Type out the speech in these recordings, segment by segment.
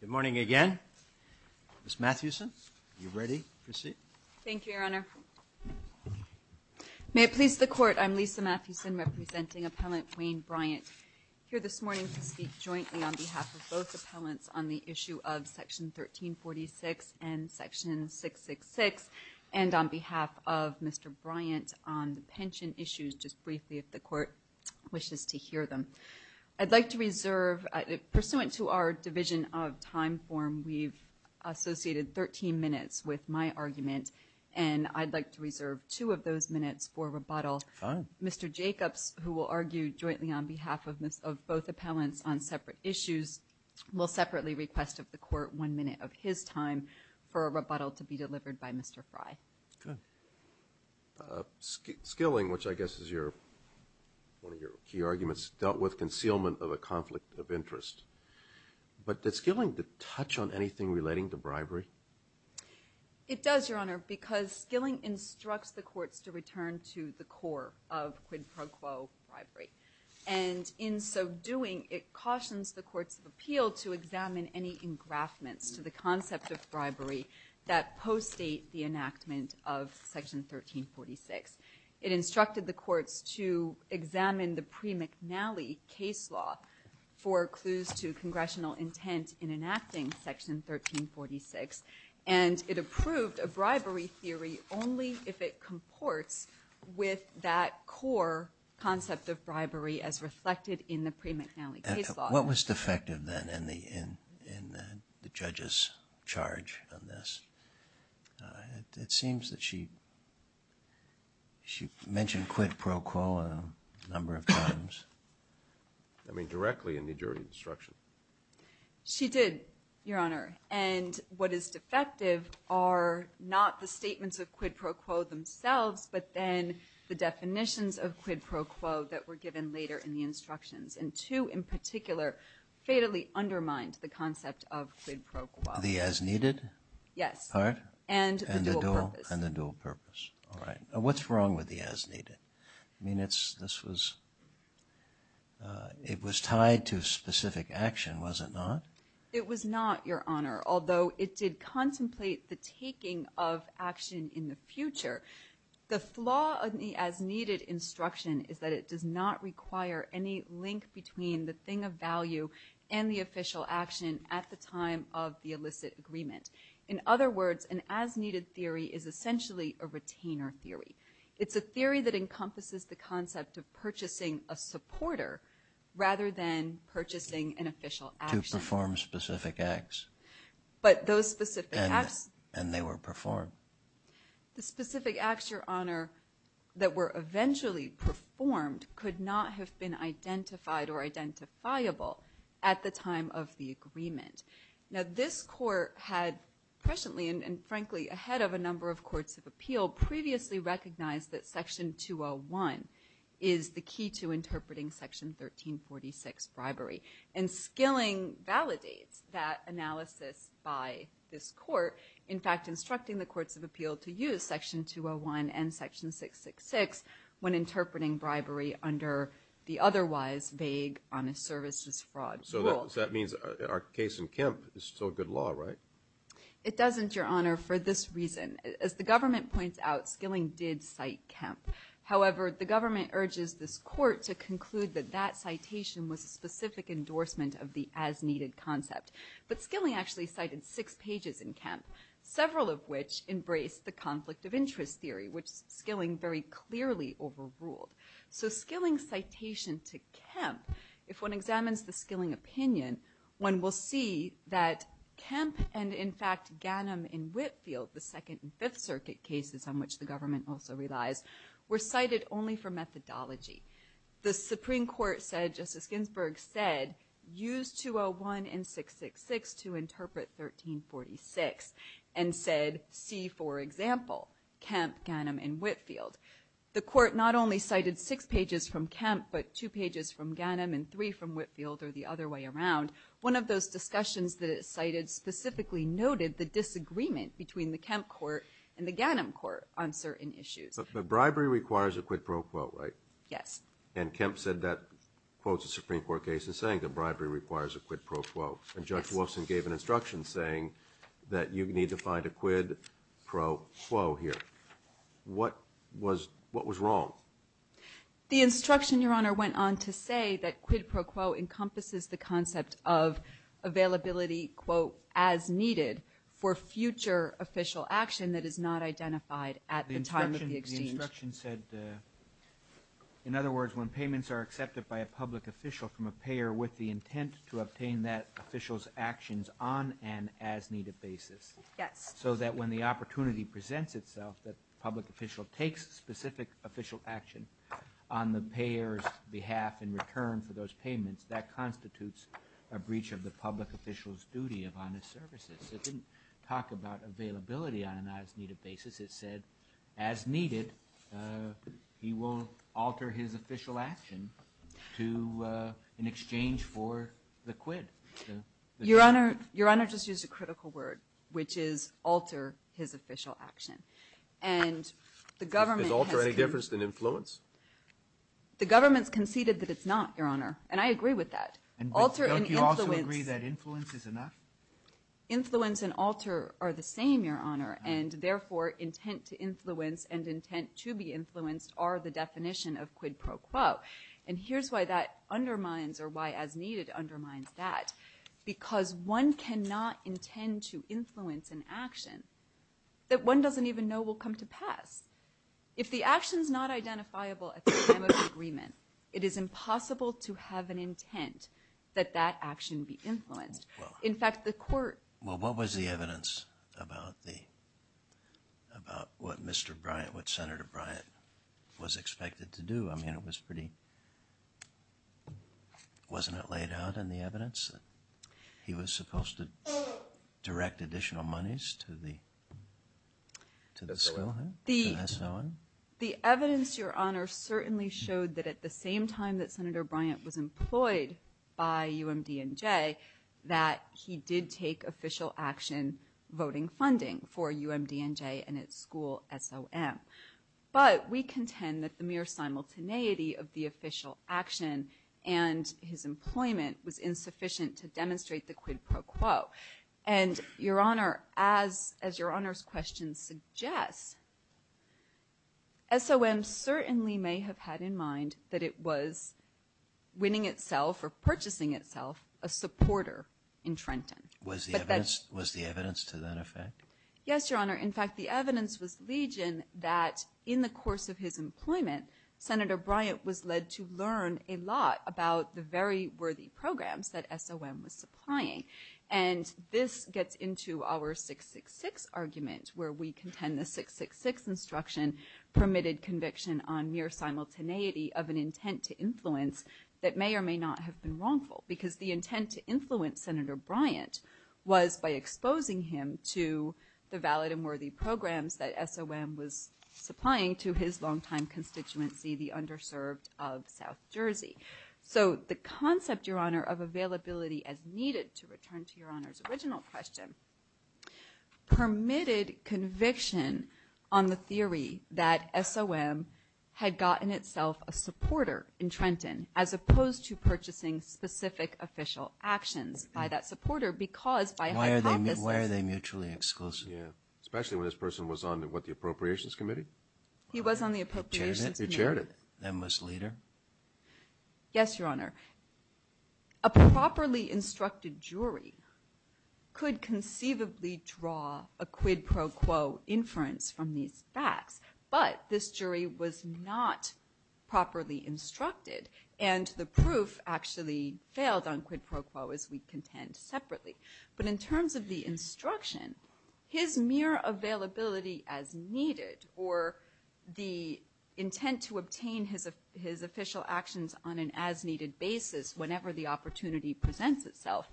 Good morning again. Ms. Mathewson, are you ready to proceed? Thank you, Your Honor. May it please the Court, I'm Lisa Mathewson representing Appellant Wayne Bryant. I'm here this morning to speak jointly on behalf of both appellants on the issue of Section 1346 and Section 666, and on behalf of Mr. Bryant on pension issues, just briefly, if the Court wishes to hear them. I'd like to reserve, pursuant to our division of time form, we've associated 13 minutes with my argument, and I'd like to reserve two of those minutes for rebuttal. Mr. Jacobs, who will argue jointly on behalf of both appellants on separate issues, will separately request of the Court one minute of his time for a rebuttal to be delivered by Mr. Frye. Skilling, which I guess is one of your key arguments, dealt with concealment of a conflict of interest. But did Skilling touch on anything relating to bribery? It does, Your Honor, because Skilling instructs the Court to return to the core of quid pro quo bribery. And in so doing, it cautions the courts of appeal to examine any engraftment to the concept of bribery that postdate the enactment of Section 1346. It instructed the courts to examine the pre-McNally case law for clues to congressional intent in enacting Section 1346. And it approved a bribery theory only if it comports with that core concept of bribery as reflected in the pre-McNally case law. What was defective then in the judge's charge of this? It seems that she mentioned quid pro quo a number of times. I mean, directly in the jury's instruction. She did, Your Honor. And what is defective are not the statements of quid pro quo themselves, but then the definitions of quid pro quo that were given later in the instructions. And two in particular fatally undermined the concept of quid pro quo. The as-needed part? Yes, and the dual purpose. And the dual purpose. All right. What's wrong with the as-needed? I mean, this was – it was tied to specific action, was it not? It was not, Your Honor, although it did contemplate the taking of action in the future. The flaw of the as-needed instruction is that it does not require any link between the thing of value and the official action at the time of the illicit agreement. In other words, an as-needed theory is essentially a retainer theory. It's a theory that encompasses the concept of purchasing a supporter rather than purchasing an official action. To perform specific acts. But those specific acts. And they were performed. The specific acts, Your Honor, that were eventually performed could not have been identified or identifiable at the time of the agreement. Now, this court had presciently and, frankly, ahead of a number of courts of appeal, previously recognized that Section 201 is the key to interpreting Section 1346 bribery. And Skilling validates that analysis by this court. In fact, instructing the courts of appeal to use Section 201 and Section 666 when interpreting bribery under the otherwise vague honest services fraud rule. So that means our case in Kemp is still good law, right? It doesn't, Your Honor, for this reason. As the government points out, Skilling did cite Kemp. However, the government urges this court to conclude that that citation was a specific endorsement of the as-needed concept. But Skilling actually cited six pages in Kemp, several of which embraced the conflict of interest theory, which Skilling very clearly overruled. So Skilling's citation to Kemp, if one examines the Skilling opinion, one will see that Kemp and, in fact, Ganim in Whitfield, the Second and Fifth Circuit cases on which the government also relies, were cited only for methodology. The Supreme Court said, Justice Ginsburg said, use 201 and 666 to interpret 1346, and said see for example Kemp, Ganim, and Whitfield. The court not only cited six pages from Kemp, but two pages from Ganim and three from Whitfield or the other way around. One of those discussions that it cited specifically noted the disagreement between the Kemp court and the Ganim court on certain issues. The bribery requires a quid pro quo, right? Yes. And Kemp said that both the Supreme Court case and saying the bribery requires a quid pro quo. And Judge Wolfson gave an instruction saying that you need to find a quid pro quo here. What was wrong? The instruction, Your Honor, went on to say that quid pro quo encompasses the concept of availability, quote, as needed for future official action that is not identified at the time of the exchange. The instruction said, in other words, when payments are accepted by a public official from a payer with the intent to obtain that official's actions on an as-needed basis, so that when the opportunity presents itself that the public official takes specific official action on the payer's behalf in return for those payments, that constitutes a breach of the public official's duty of honest services. It didn't talk about availability on an as-needed basis. It said, as needed, he won't alter his official action in exchange for the quid. Your Honor, your Honor just used a critical word, which is alter his official action. And the government… Is alter any different than influence? The government conceded that it's not, Your Honor, and I agree with that. Don't you also agree that influence is enough? Influence and alter are the same, Your Honor, and therefore intent to influence and intent to be influenced are the definition of quid pro quo. And here's why that undermines, or why as-needed undermines that. Because one cannot intend to influence an action that one doesn't even know will come to pass. If the action is not identifiable at the time of the agreement, it is impossible to have an intent that that action be influenced. In fact, the court… Well, what was the evidence about what Mr. Bryant, what Senator Bryant was expected to do? I mean, it was pretty… Wasn't it laid out in the evidence that he was supposed to direct additional monies to the… The evidence, Your Honor, certainly showed that at the same time that Senator Bryant was employed by UMDNJ, that he did take official action voting funding for UMDNJ and its school, SOM. But we contend that the mere simultaneity of the official action and his employment was insufficient to demonstrate the quid pro quo. And, Your Honor, as Your Honor's question suggests, SOM certainly may have had in mind that it was winning itself or purchasing itself a supporter in Trenton. Was the evidence to that effect? Yes, Your Honor. In fact, the evidence was legion that in the course of his employment, Senator Bryant was led to learn a lot about the very worthy programs that SOM was supplying. And this gets into our 666 argument where we contend the 666 instruction permitted conviction on mere simultaneity of an intent to influence that may or may not have been wrongful. Because the intent to influence Senator Bryant was by exposing him to the valid and worthy programs that SOM was supplying to his longtime constituency, the underserved of South Jersey. So the concept, Your Honor, of availability as needed, to return to Your Honor's original question, as opposed to purchasing specific official actions by that supporter because by hypothesis... Why are they mutually exclusive? Especially when this person was on what, the Appropriations Committee? He was on the Appropriations Committee. He chaired it. And was leader. Yes, Your Honor. A properly instructed jury could conceivably draw a quid pro quo inference from these facts. But this jury was not properly instructed. And the proof actually failed on quid pro quo, as we contend separately. But in terms of the instruction, his mere availability as needed, or the intent to obtain his official actions on an as-needed basis whenever the opportunity presents itself,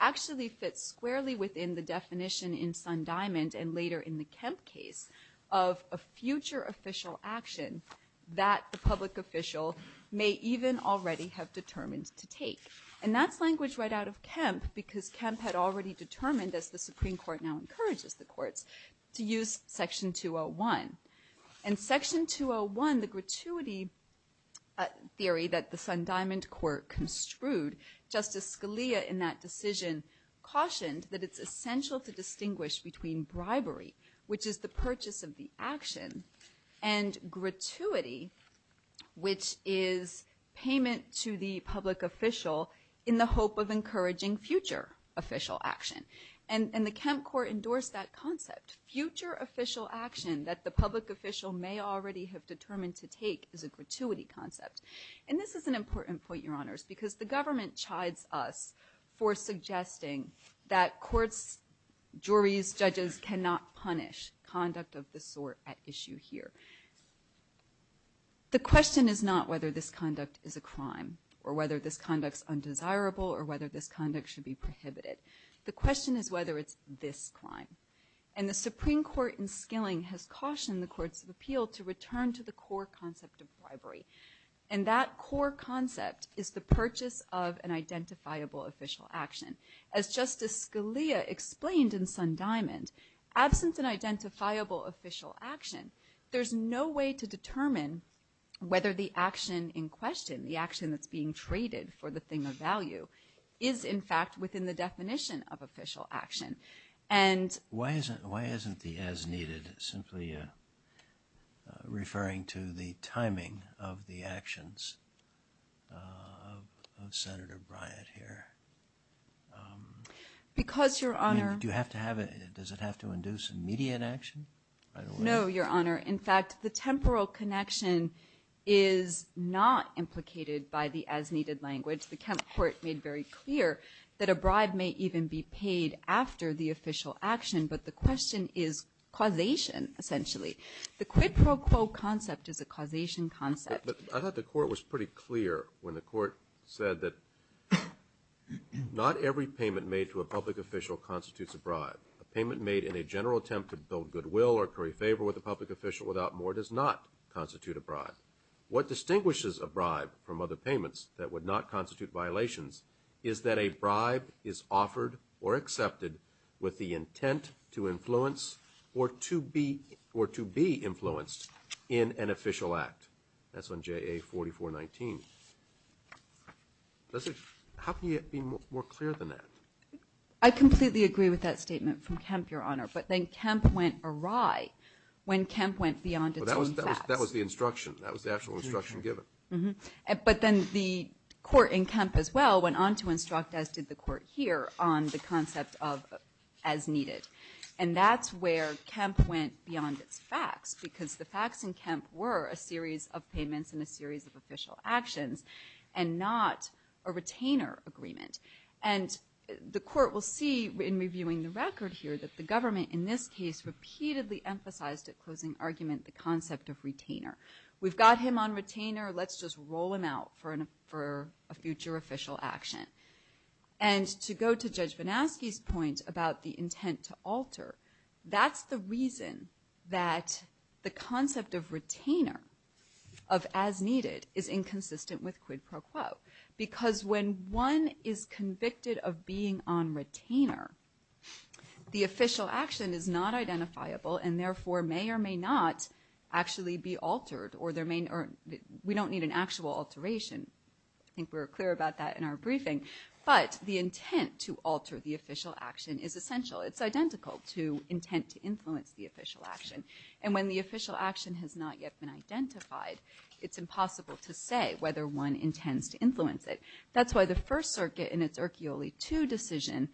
actually fits squarely within the definition in Sundiamond and later in the Kemp case of a future official action that the public official may even already have determined to take. And that's language right out of Kemp because Kemp had already determined, as the Supreme Court now encourages the courts, to use Section 201. In Section 201, the gratuity theory that the Sundiamond court construed, Justice Scalia in that decision cautioned that it's essential to distinguish between bribery, which is the purchase of the action, and gratuity, which is payment to the public official in the hope of encouraging future official action. And the Kemp court endorsed that concept. Future official action that the public official may already have determined to take is a gratuity concept. And this is an important point, Your Honors, because the government chides us for suggesting that courts, juries, judges, cannot punish conduct of this sort at issue here. The question is not whether this conduct is a crime or whether this conduct is undesirable or whether this conduct should be prohibited. The question is whether it's this crime. And the Supreme Court in Skilling has cautioned the courts of appeal to return to the core concept of bribery. And that core concept is the purchase of an identifiable official action. As Justice Scalia explained in Sundiamond, absence of an identifiable official action, there's no way to determine whether the action in question, the action that's being treated for the thing of value, is in fact within the definition of official action. Why isn't the as-needed simply referring to the timing of the actions of Senator Bryant here? Does it have to induce immediate action? No, Your Honor. In fact, the temporal connection is not implicated by the as-needed language. The court made very clear that a bribe may even be paid after the official action, but the question is causation, essentially. The quid pro quo concept is a causation concept. But I thought the court was pretty clear when the court said that not every payment made to a public official constitutes a bribe. A payment made in a general attempt to build goodwill or curry favor with a public official without more does not constitute a bribe. What distinguishes a bribe from other payments that would not constitute violations is that a bribe is offered or accepted with the intent to influence or to be influenced in an official act. That's on JA4419. How can it be more clear than that? I completely agree with that statement from Kemp, Your Honor, but then Kemp went awry when Kemp went beyond a certain fact. That was the instruction. That was the actual instruction given. But then the court in Kemp as well went on to instruct, as did the court here, on the concept of as-needed. And that's where Kemp went beyond facts because the facts in Kemp were a series of payments and a series of official actions and not a retainer agreement. And the court will see in reviewing the record here that the government in this case has repeatedly emphasized at closing argument the concept of retainer. We've got him on retainer. Let's just roll him out for a future official action. And to go to Judge Van Aske's point about the intent to alter, that's the reason that the concept of retainer, of as-needed, is inconsistent with quid pro quo because when one is convicted of being on retainer, the official action is not identifiable and therefore may or may not actually be altered. We don't need an actual alteration. I think we were clear about that in our briefing. But the intent to alter the official action is essential. It's identical to intent to influence the official action. And when the official action has not yet been identified, it's impossible to say whether one intends to influence it. That's why the First Circuit in its Urquioli 2 decision,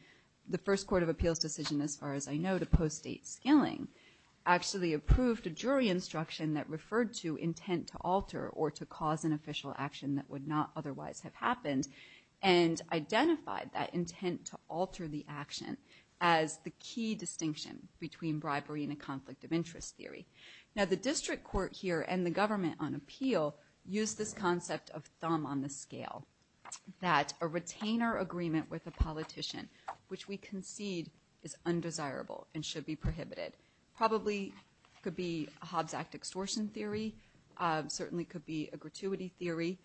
the first court of appeals decision as far as I know to post date scaling, actually approved a jury instruction that referred to intent to alter or to cause an official action that would not otherwise have happened and identified that intent to alter the action as the key distinction between bribery and a conflict of interest theory. Now the district court here and the government on appeal use this concept of thumb on the scale, that a retainer agreement with a politician, which we concede is undesirable and should be prohibited. Probably could be Hobbs Act extortion theory, certainly could be a gratuity theory,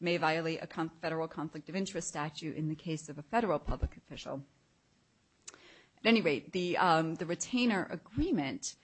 may violate a federal conflict of interest statute in the case of a federal public official. At any rate, the retainer agreement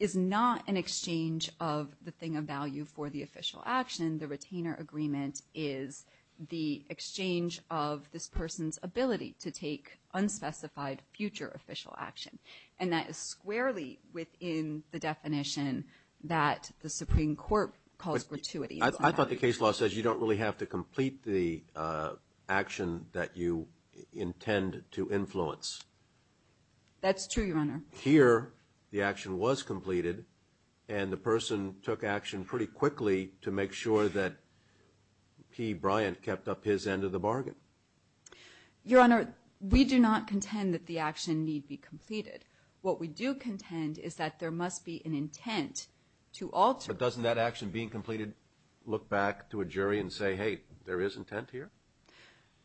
is not an exchange of the thing of value for the official action. The retainer agreement is the exchange of this person's ability to take unspecified future official action. And that is squarely within the definition that the Supreme Court calls gratuity. I thought the case law says you don't really have to complete That's true, Your Honor. Here, the action was completed, and the person took action pretty quickly to make sure that P. Bryant kept up his end of the bargain. Your Honor, we do not contend that the action need be completed. What we do contend is that there must be an intent to alter But doesn't that action being completed look back to a jury and say, hey, there is intent here?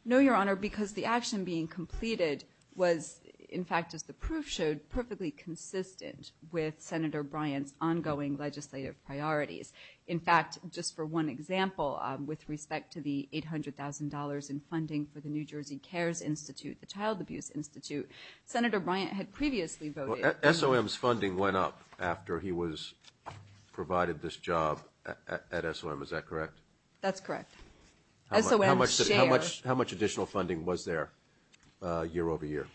No, Your Honor, because the action being completed was, in fact, as the proof showed, perfectly consistent with Senator Bryant's ongoing legislative priorities. In fact, just for one example, with respect to the $800,000 in funding for the New Jersey CARES Institute, the Child Abuse Institute, Senator Bryant had previously voted SOM's funding went up after he was provided this job at SOM. Is that correct? That's correct. How much additional funding was there year over year?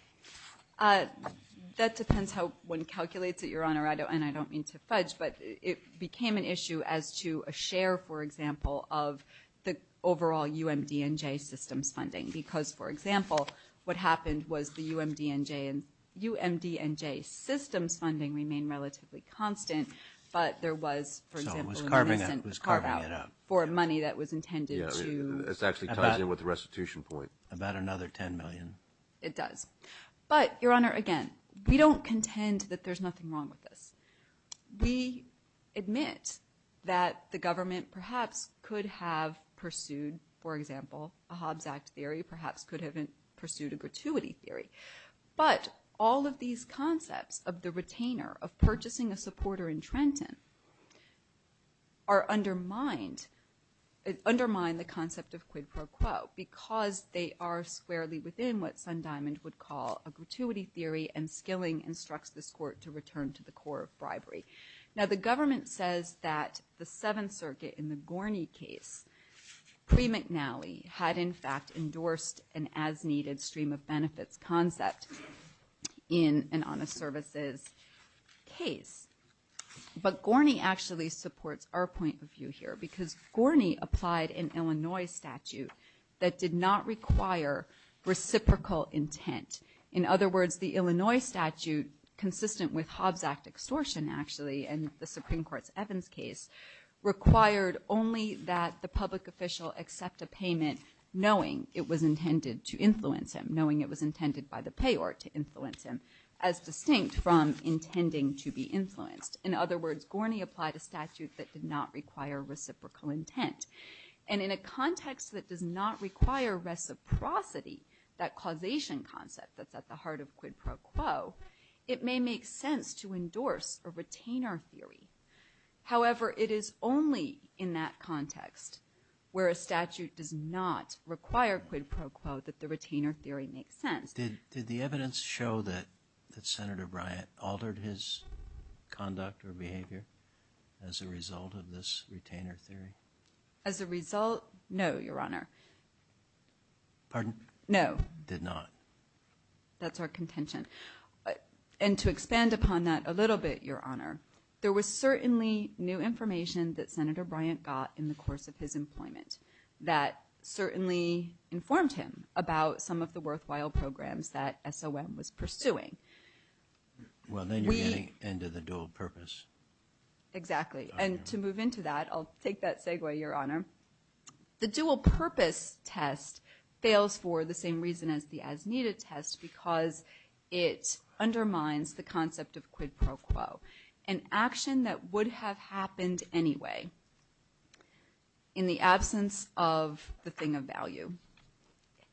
That depends how one calculates it, Your Honor, and I don't mean to fudge, but it became an issue as to a share, for example, of the overall UMDNJ system funding because, for example, what happened was the UMDNJ system funding remained relatively constant, but there was, for example, for money that was intended to... It does. But, Your Honor, again, we don't contend that there's nothing wrong with this. We admit that the government perhaps could have pursued, for example, a Hobbs Act theory, perhaps could have pursued a gratuity theory, but all of these concepts of the retainer, of purchasing a supporter in Trenton, undermine the concept of quid pro quo because they are squarely within what Sundiamond would call a gratuity theory and skilling instructs the court to return to the core of bribery. Now, the government says that the Seventh Circuit, in the Gorney case, pre-McNally, had in fact endorsed an as-needed stream-of-benefits concept in an honest services case. But Gorney actually supports our point of view here because Gorney applied an Illinois statute that did not require reciprocal intent. In other words, the Illinois statute, consistent with Hobbs Act extortion, actually, and the Supreme Court's Evans case, required only that the public official accept a payment knowing it was intended to influence him, knowing it was intended by the payor to influence him, as distinct from intending to be influenced. In other words, Gorney applied a statute that did not require reciprocal intent. And in a context that does not require reciprocity, that causation concept that's at the heart of quid pro quo, it may make sense to endorse a retainer theory. However, it is only in that context, where a statute does not require quid pro quo, that the retainer theory makes sense. Did the evidence show that Senator Bryant altered his conduct or behavior as a result of this retainer theory? As a result, no, Your Honor. Pardon? No. Did not. That's our contention. And to expand upon that a little bit, Your Honor, there was certainly new information that Senator Bryant got in the course of his employment that certainly informed him about some of the worthwhile programs that SOM was pursuing. Well, then you're getting into the dual purpose. Exactly. And to move into that, I'll take that segue, Your Honor. The dual purpose test fails for the same reason as the as-needed test, because it undermines the concept of quid pro quo, an action that would have happened anyway in the absence of the thing of value,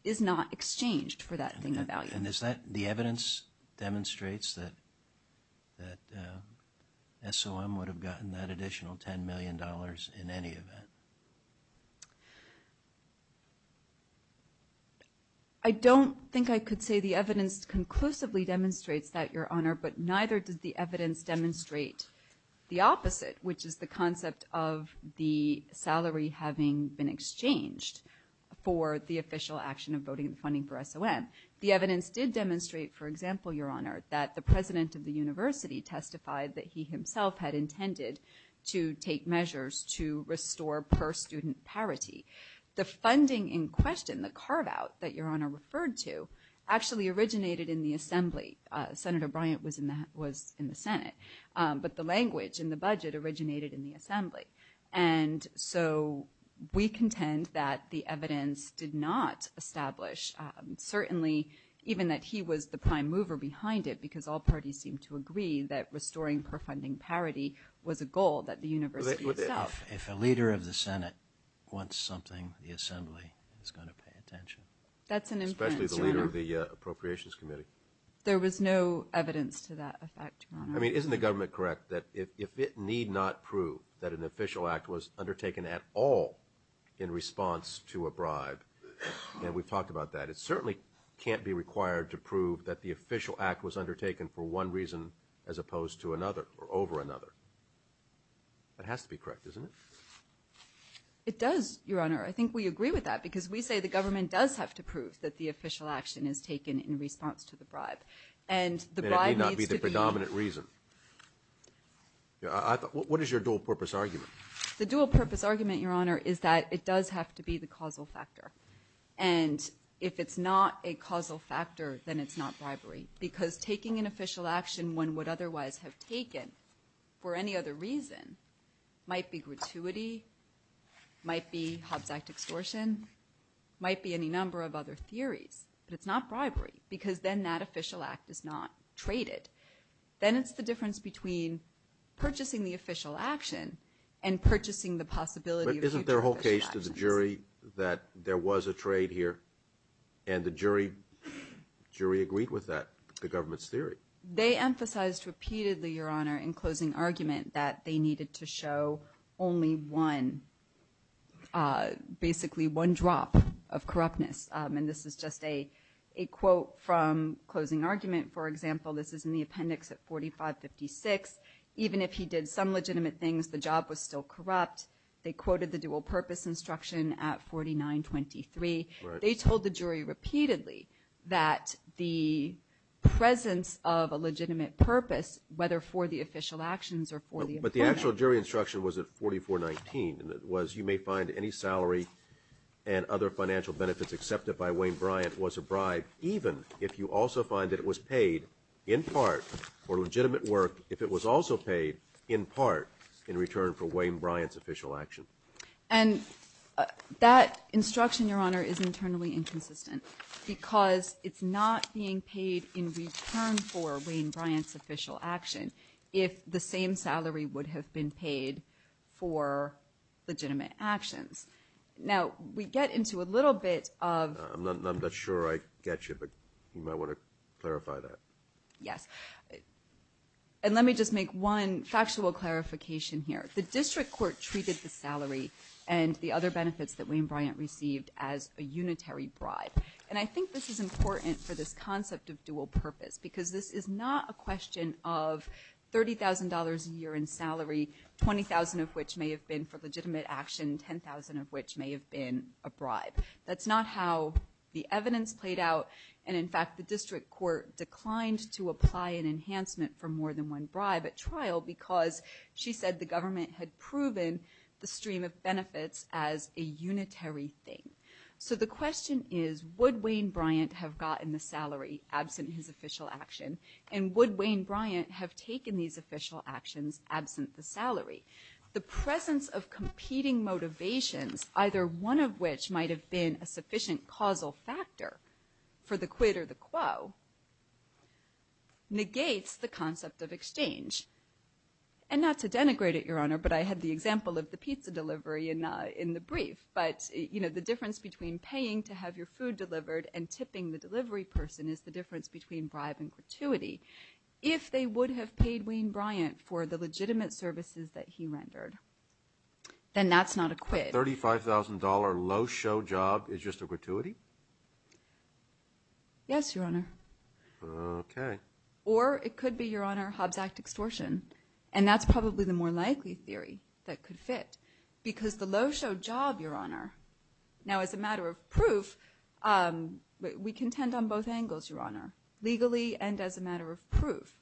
is not exchanged for that thing of value. And is that the evidence demonstrates that SOM would have gotten that additional $10 million in any event? I don't think I could say the evidence conclusively demonstrates that, Your Honor, but neither did the evidence demonstrate the opposite, which is the concept of the salary having been exchanged for the official action of voting and funding for SOM. The evidence did demonstrate, for example, Your Honor, that the president of the university testified that he himself had intended to take measures to restore per-student parity. The funding in question, the carve-out that Your Honor referred to, actually originated in the Assembly. Senator Bryant was in the Senate. But the language and the budget originated in the Assembly. And so we contend that the evidence did not establish, certainly, even that he was the prime mover behind it, because all parties seemed to agree that restoring per-funding parity was a goal that the university itself... If a leader of the Senate wants something, the Assembly is going to pay attention. That's an incentive. Especially the leader of the Appropriations Committee. There was no evidence to that effect, Your Honor. Isn't the government correct that if it need not prove that an official act was undertaken at all in response to a bribe, and we've talked about that, it certainly can't be required to prove that the official act was undertaken for one reason as opposed to another, or over another. It has to be correct, doesn't it? It does, Your Honor. I think we agree with that. Because we say the government does have to prove that the official action is taken in response to the bribe. It may not be the predominant reason. What is your dual-purpose argument? The dual-purpose argument, Your Honor, is that it does have to be the causal factor. And if it's not a causal factor, then it's not bribery. Because taking an official action one would otherwise have taken for any other reason might be gratuity, might be Hobbes Act extortion, might be any number of other theories. But it's not bribery, because then that official act is not traded. Then it's the difference between purchasing the official action and purchasing the possibility of taking the official action. But isn't there a whole case to the jury that there was a trade here, and the jury agreed with that, the government's theory? They emphasized repeatedly, Your Honor, in closing argument that they needed to show only one, basically one drop of corruptness. And this is just a quote from closing argument. For example, this is in the appendix at 4556. Even if he did some legitimate things, the job was still corrupt. They quoted the dual-purpose instruction at 4923. They told the jury repeatedly that the presence of a legitimate purpose, whether for the official actions or for the official... But the actual jury instruction was at 4419. It was, you may find any salary and other financial benefits accepted by Wayne Bryant was a bribe, even if you also find that it was paid in part for legitimate work, if it was also paid in part in return for Wayne Bryant's official action. And that instruction, Your Honor, is internally inconsistent, because it's not being paid in return for Wayne Bryant's official action if the same salary would have been paid for legitimate actions. Now, we get into a little bit of... I'm not sure I get you, but you might want to clarify that. Yes. And let me just make one factual clarification here. The district court treated the salary and the other benefits that Wayne Bryant received as a unitary bribe. And I think this is important for this concept of dual purpose, because this is not a question of $30,000 a year in salary, $20,000 of which may have been in return for legitimate action, $10,000 of which may have been a bribe. That's not how the evidence played out. And, in fact, the district court declined to apply an enhancement for more than one bribe at trial because she said the government had proven the stream of benefits as a unitary thing. So the question is, would Wayne Bryant have gotten the salary absent his official action, and would Wayne Bryant have taken these official actions absent the salary? The presence of competing motivations, either one of which might have been a sufficient causal factor for the quid or the quo, negates the concept of exchange. And not to denigrate it, Your Honor, but I had the example of the pizza delivery in the brief. But, you know, the difference between paying to have your food delivered and tipping the delivery person is the difference between bribe and gratuity. If they would have paid Wayne Bryant for the legitimate services that he rendered, then that's not a quid. A $35,000 low-show job is just a gratuity? Yes, Your Honor. Okay. Or it could be, Your Honor, Hobbs Act extortion. And that's probably the more likely theory that could fit, because the low-show job, Your Honor... Now, as a matter of proof, we contend on both angles, Your Honor, legally and as a matter of proof,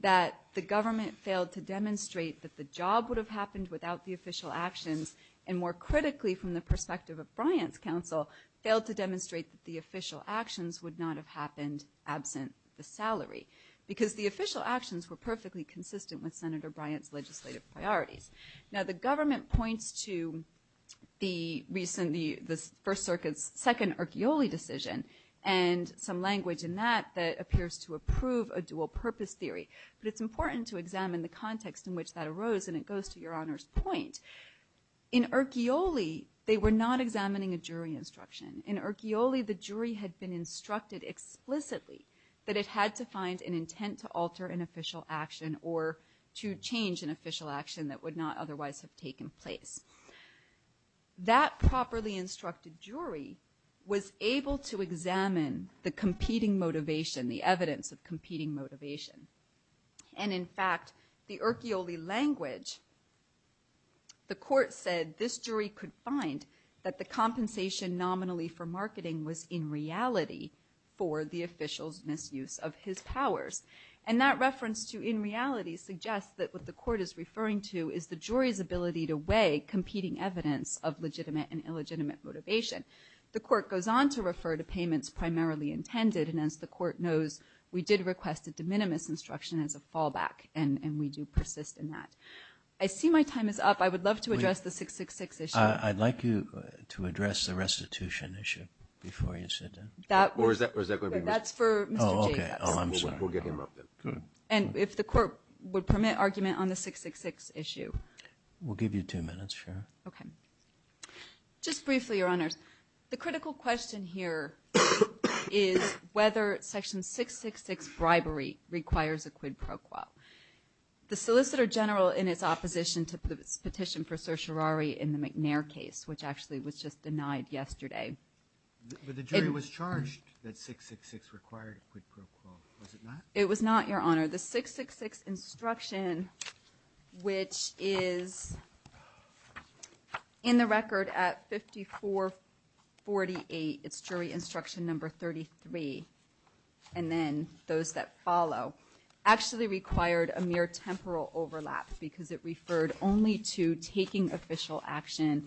that the government failed to demonstrate that the job would have happened without the official actions, and more critically, from the perspective of Bryant's counsel, failed to demonstrate that the official actions would not have happened absent the salary, because the official actions were perfectly consistent with Senator Bryant's legislative priorities. Now, the government points to the recent... the First Circuit's second Archioli decision, and some language in that that appears to approve a dual-purpose theory. But it's important to examine the context in which that arose, and it goes to Your Honor's point. In Archioli, they were not examining a jury instruction. In Archioli, the jury had been instructed explicitly that it had to find an intent to alter an official action or to change an official action that would not otherwise have taken place. That properly instructed jury was able to examine the competing motivation, the evidence of competing motivation. And in fact, the Archioli language, the court said, this jury could find that the compensation nominally for marketing was in reality for the official's misuse of his powers. And that reference to in reality suggests that what the court is referring to is the jury's ability to weigh competing evidence of legitimate and illegitimate motivation. The court goes on to refer to payments primarily intended, and as the court knows, we did request a de minimis instruction as a fallback, and we do persist in that. I see my time is up. I would love to address the 666 issue. I'd like you to address the restitution issue before you sit down. That's for Mr. Jacob. We'll get him up then. And if the court would permit argument on the 666 issue. We'll give you two minutes, sure. Just briefly, Your Honors. The critical question here is whether Section 666 bribery requires a quid pro quo. The Solicitor General in its opposition to the petition for certiorari in the McNair case, which actually was just denied yesterday. But the jury was charged that 666 required a quid pro quo. Was it not? It was not, Your Honor. The 666 instruction, which is in the record at 5448, it's jury instruction number 33, and then those that follow, actually required a mere temporal overlap because it referred only to taking official action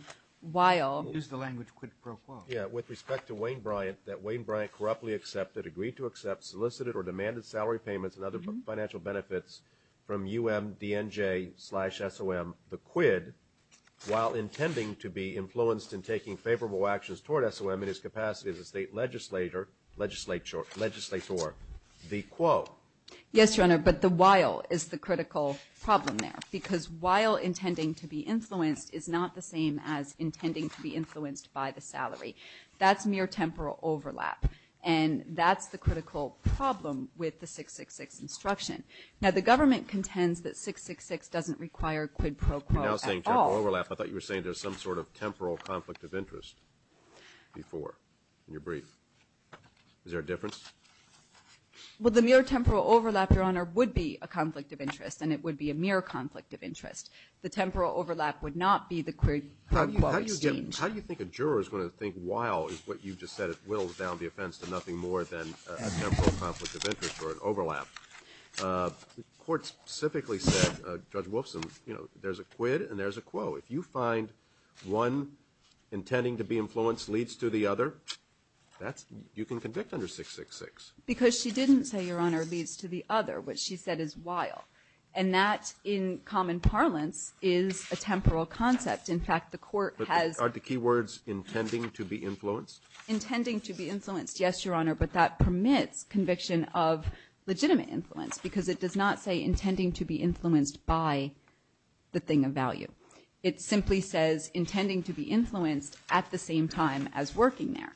while... Use the language quid pro quo. Yeah, with respect to Wayne Bryant, that Wayne Bryant corruptly accepted, agreed to accept, solicited, or demanded salary payments and other financial benefits from UMDNJ slash SOM. The quid while intending to be influenced in taking favorable actions toward SOM in its capacity as a state legislator. The quo. Yes, Your Honor, but the while is the critical problem there because while intending to be influenced is not the same as intending to be influenced by the salary. That's mere temporal overlap, and that's the critical problem with the 666 instruction. Now, the government contends that 666 doesn't require quid pro quo at all. You're now saying temporal overlap. I thought you were saying there's some sort of temporal conflict of interest before in your brief. Is there a difference? Well, the mere temporal overlap, Your Honor, would be a conflict of interest, and it would be a mere conflict of interest. The temporal overlap would not be the quid pro quo. How do you think a juror is going to think while is what you just said it whittles down the offense to nothing more than a temporal conflict of interest or an overlap? The court specifically said, Judge Wolfson, there's a quid and there's a quo. If you find one intending to be influenced leads to the other, you can convict under 666. Because she didn't say, Your Honor, leads to the other, which she said is while. And that, in common parlance, is a temporal concept. In fact, the court has... But aren't the key words intending to be influenced? Intending to be influenced, yes, Your Honor, but that permits conviction of legitimate influence because it does not say intending to be influenced by the thing of value. It simply says intending to be influenced at the same time as working there.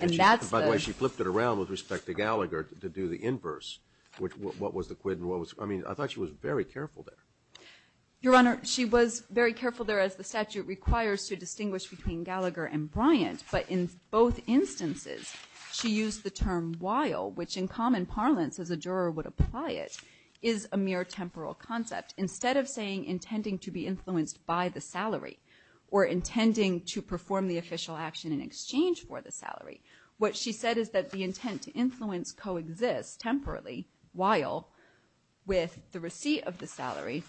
And that's the... By the way, she flipped it around with respect to Gallagher to do the inverse. What was the quid and what was... I mean, I thought she was very careful there. Your Honor, she was very careful there as the statute requires to distinguish between Gallagher and Bryant, but in both instances she used the term while, which in common parlance as a juror would apply it, is a mere temporal concept. Instead of saying intending to be influenced by the salary or intending to perform the official action in exchange for the salary, what she said is that the intent to influence coexists temporarily, while, with the receipt of the salary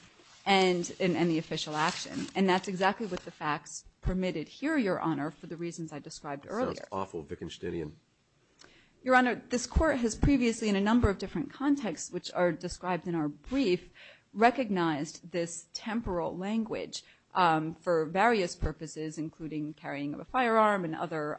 and the official action. And that's exactly what the fact permitted here, Your Honor, for the reasons I described earlier. Your Honor, this Court has previously, in a number of different contexts, which are described in our brief, recognized this temporal language for various purposes, including carrying a firearm and other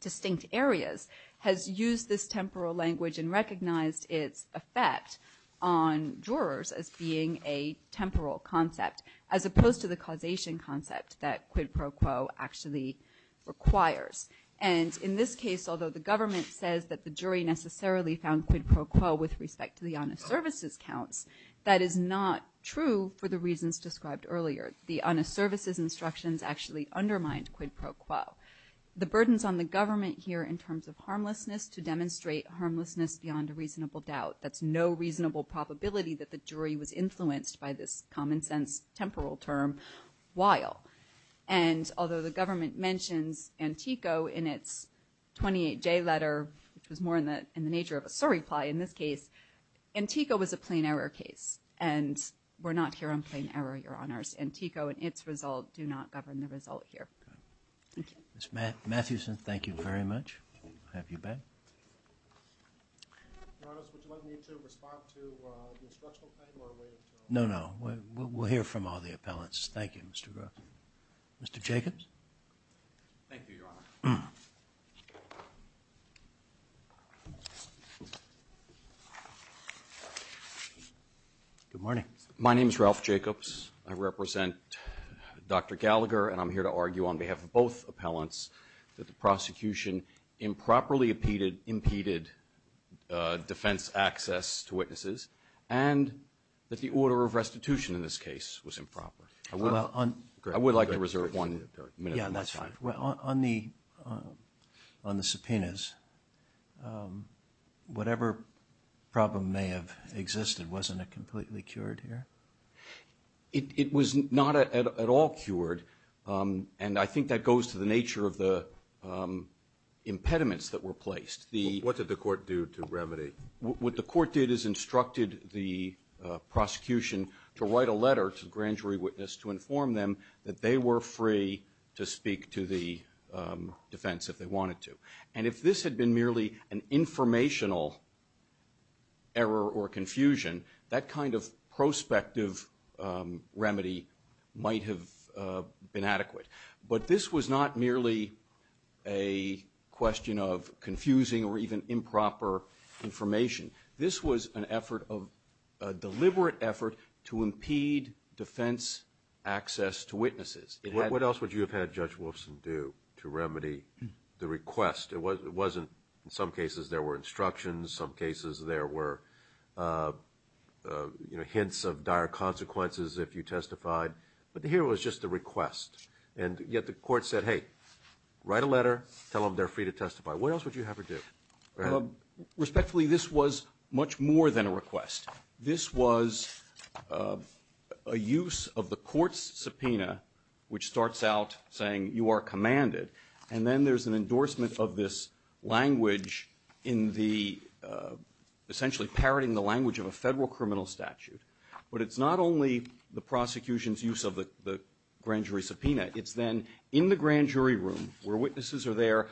distinct areas, has used this temporal language and recognized its effect on jurors as being a temporal concept, as opposed to the causation concept that quid pro quo actually requires. And in this case, although the government says that the jury necessarily found quid pro quo with respect to the honest services count, that is not true for the reasons described earlier. The honest services instructions actually undermined quid pro quo. The burdens on the government here in terms of harmlessness to demonstrate harmlessness beyond a reasonable doubt, that's no reasonable probability that the jury was influenced by this common-sense temporal term, while. And although the government mentions Antico in its 28-J letter, which is more in the nature of a surreply in this case, Antico was a plain error case. And we're not here on plain error, Your Honors. Antico and its results do not govern the result here. Thank you. Ms. Mathewson, thank you very much. I'll have you back. No, no. We'll hear from all the appellants. Thank you, Mr. Brooks. Mr. Jacobs? Thank you, Your Honor. Good morning. My name is Ralph Jacobs. I represent Dr. Gallagher, and I'm here to argue on behalf of both appellants that the prosecution improperly impeded defense access to witnesses and that the order of restitution in this case was improper. I would like to reserve one minute. Yeah, that's fine. On the subpoenas, whatever problem may have existed, wasn't it completely cured here? It was not at all cured, and I think that goes to the nature of the impediments that were placed. What did the court do to remedy? What the court did is instructed the prosecution to write a letter to the grand jury witness to inform them that they were free to speak to the defense if they wanted to. And if this had been merely an informational error or confusion, that kind of prospective remedy might have been adequate. But this was not merely a question of confusing or even improper information. This was a deliberate effort to impede defense access to witnesses. What else would you have had Judge Wolfson do to remedy the request? It wasn't, in some cases, there were instructions, in some cases there were hints of dire consequences if you testified, but here it was just the request. And yet the court said, hey, write a letter, tell them they're free to testify. What else would you have her do? Respectfully, this was much more than a request. This was a use of the court's subpoena, which starts out saying, you are commanded. And then there's an endorsement of this language in the, essentially, parroting the language of a federal criminal statute. But it's not only the prosecution's use of the grand jury subpoena. It's then in the grand jury room where witnesses are there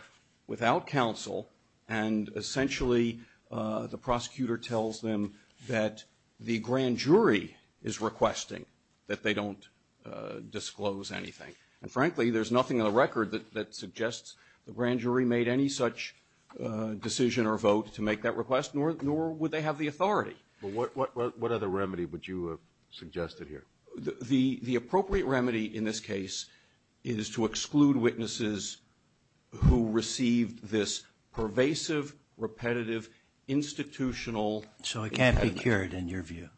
without counsel, and essentially the prosecutor tells them that the grand jury is requesting that they don't disclose anything. And frankly, there's nothing in the record that suggests the grand jury made any such decision or vote to make that request, nor would they have the authority. What other remedy would you have suggested here? The appropriate remedy in this case is to exclude witnesses who received this pervasive, repetitive, institutional... So it can't be cured in your view?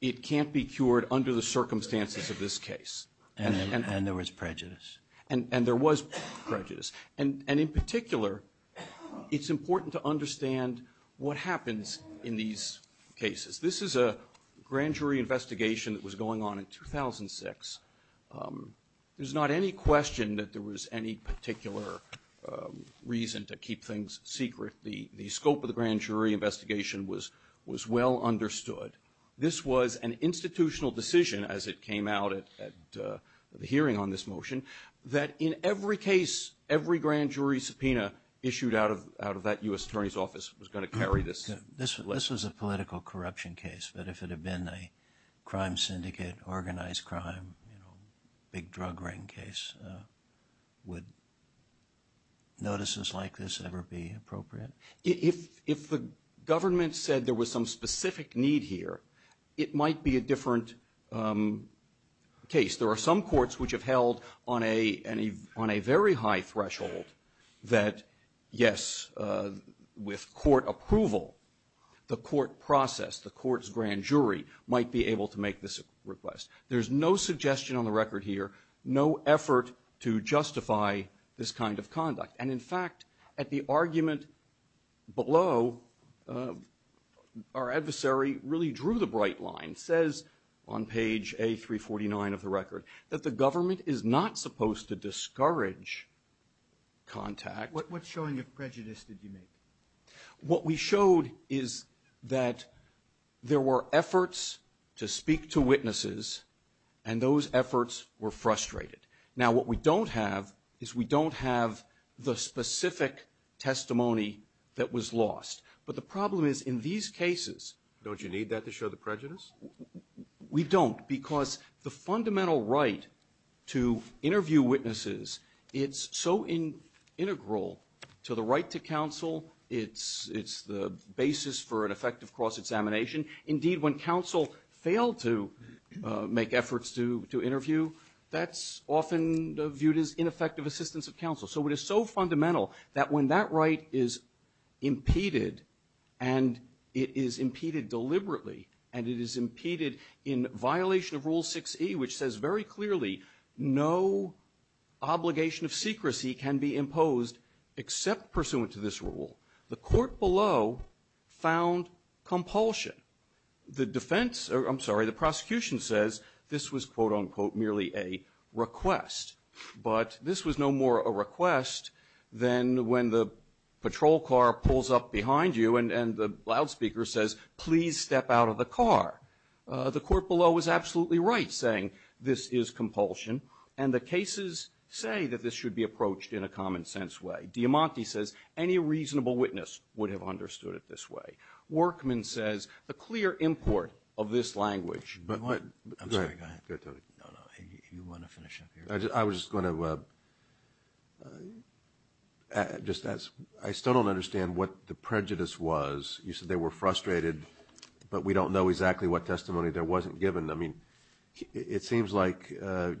It can't be cured under the circumstances of this case. And there was prejudice. And there was prejudice. And in particular, it's important to understand what happens in these cases. This is a grand jury investigation that was going on in 2006. There's not any question that there was any particular reason to keep things secret. The scope of the grand jury investigation was well understood. This was an institutional decision as it came out at the hearing on this motion that in every case, every grand jury subpoena issued out of that U.S. Attorney's office was going to carry this. This was a political corruption case, but if it had been a crime syndicate, organized crime, big drug ring case, would notices like this ever be appropriate? If the government said there was some specific need here, it might be a different case. There are some courts which have held on a very high threshold that yes, with court approval, the court process, the court's grand jury, might be able to make this request. There's no suggestion on the record here, no effort to justify this kind of conduct. In fact, at the argument below, our adversary really drew the bright line. It says on page A349 of the record that the government is not supposed to discourage contact. What showing of prejudice did you make? What we showed is that there were efforts to speak to witnesses, and those efforts were frustrated. Now, what we don't have is we don't have the specific testimony that was lost. But the problem is in these cases, don't you need that to show the prejudice? We don't, because the fundamental right to interview witnesses, it's so integral to the right to counsel, it's the basis for an effective cross-examination. Indeed, when counsel failed to make efforts to interview, that's often viewed as ineffective assistance of counsel. So it is so fundamental that when that right is impeded, and it is impeded deliberately, and it is impeded in violation of Rule 6E, which says very clearly, no obligation of secrecy can be imposed except pursuant to this rule. The court below found compulsion. The defense, I'm sorry, the prosecution says this was, quote-unquote, merely a request. But this was no more a request than when the patrol car pulls up behind you and the loudspeaker says, please step out of the car. The court below was absolutely right saying this is compulsion, and the cases say that this should be approached in a common-sense way. Diamanti says any reasonable witness would have understood it this way. Workman says a clear import of this language... But what... I'm sorry, go ahead. No, no, you want to finish up here? I was just going to... I still don't understand what the prejudice was. You said they were frustrated, but we don't know exactly what testimony there wasn't given. I mean, it seems like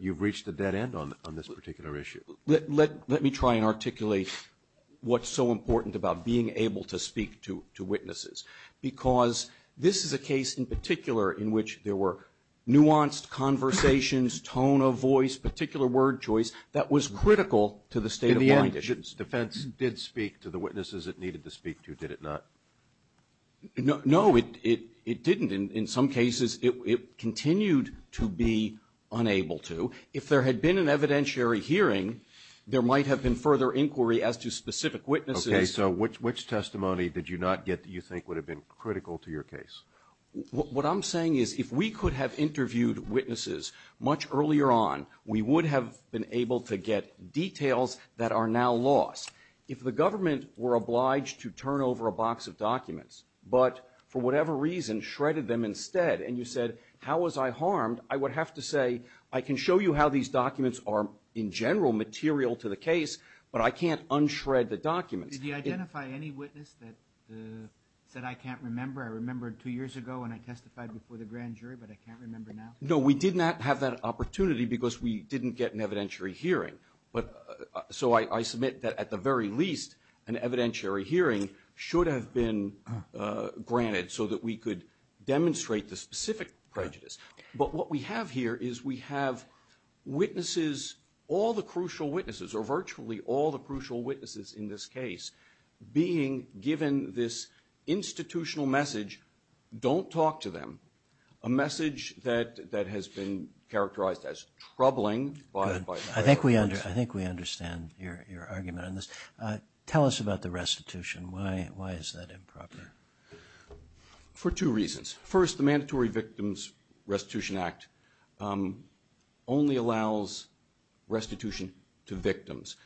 you've reached a dead end on this particular issue. Let me try and articulate what's so important about being able to speak to witnesses, because this is a case in particular in which there were nuanced conversations, tone of voice, particular word choice that was critical to the state of law. The defense did speak to the witnesses it needed to speak to, did it not? No, it didn't. In some cases, it continued to be unable to. So if there had been an evidentiary hearing, there might have been further inquiry as to specific witnesses. Okay, so which testimony did you not get that you think would have been critical to your case? What I'm saying is if we could have interviewed witnesses much earlier on, we would have been able to get details that are now lost. If the government were obliged to turn over a box of documents, but for whatever reason shredded them instead, and you said, how was I harmed, I would have to say I can show you how these documents are in general material to the case, but I can't unshred the documents. Did you identify any witness that I can't remember? I remembered two years ago when I testified before the grand jury, but I can't remember now. No, we did not have that opportunity because we didn't get an evidentiary hearing. So I submit that at the very least, an evidentiary hearing should have been granted so that we could demonstrate the specific prejudice. But what we have here is we have witnesses, all the crucial witnesses, or virtually all the crucial witnesses in this case, being given this institutional message, don't talk to them, a message that has been characterized as troubling. I think we understand your argument on this. Tell us about the restitution. Why is that improper? For two reasons. First, the Mandatory Victims Restitution Act only allows restitution to victims.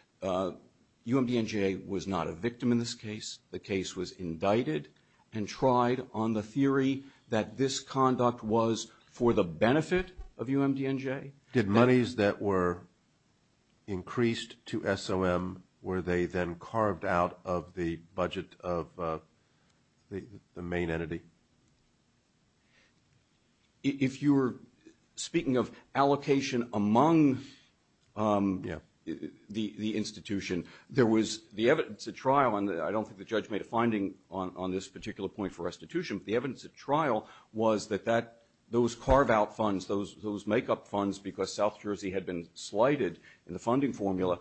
UMDNJ was not a victim in this case. The case was indicted and tried on the theory that this conduct was for the benefit of UMDNJ. Did monies that were increased to SOM, were they then carved out of the budget of the main entity? If you're speaking of allocation among the institution, there was the evidence at trial, and I don't think the judge made a finding on this particular point for restitution, but the evidence at trial was that those carve-out funds, those make-up funds, because South Jersey had been slighted in the funding formula,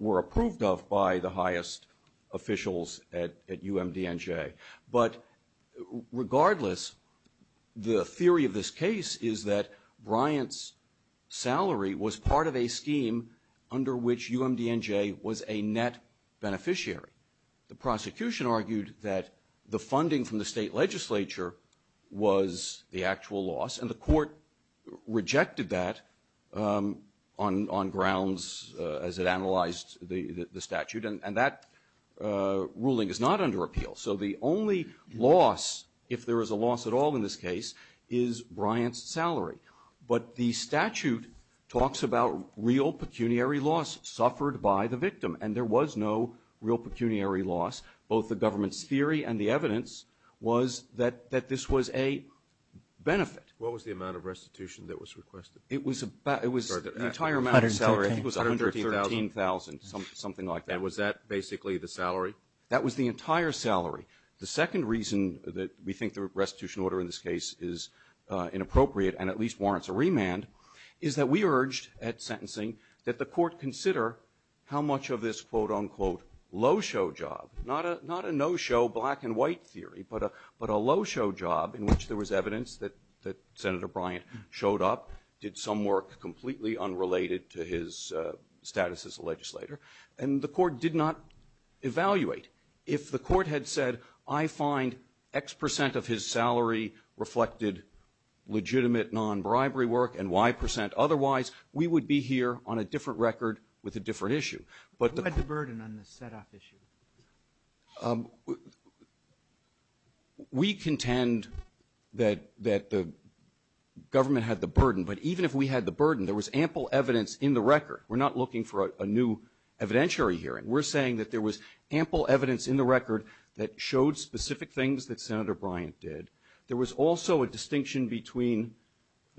were approved of by the highest officials at UMDNJ. But regardless, the theory of this case is that Bryant's salary was part of a scheme under which UMDNJ was a net beneficiary. The prosecution argued that the funding from the state legislature was the actual loss, and the court rejected that on grounds, as it analyzed the statute, and that ruling is not under appeal. So the only loss, if there is a loss at all in this case, is Bryant's salary. But the statute talks about real pecuniary loss suffered by the victim, and there was no real pecuniary loss. Both the government's theory and the evidence was that this was a benefit. What was the amount of restitution that was requested? It was an entire amount of salary. It was $113,000, something like that. And was that basically the salary? That was the entire salary. The second reason that we think the restitution order in this case is inappropriate, and at least warrants a remand, is that we urged at sentencing that the court consider how much of this was a quote-unquote low-show job. Not a no-show black-and-white theory, but a low-show job in which there was evidence that Senator Bryant showed up, did some work completely unrelated to his status as a legislator, and the court did not evaluate. If the court had said, I find X percent of his salary reflected legitimate non-bribery work and Y percent otherwise, we would be here on a different record with a different issue. Who had the burden on the set-off issue? We contend that the government had the burden, but even if we had the burden, there was ample evidence in the record. We're not looking for a new evidentiary hearing. We're saying that there was ample evidence in the record that showed specific things that Senator Bryant did. There was also a distinction between...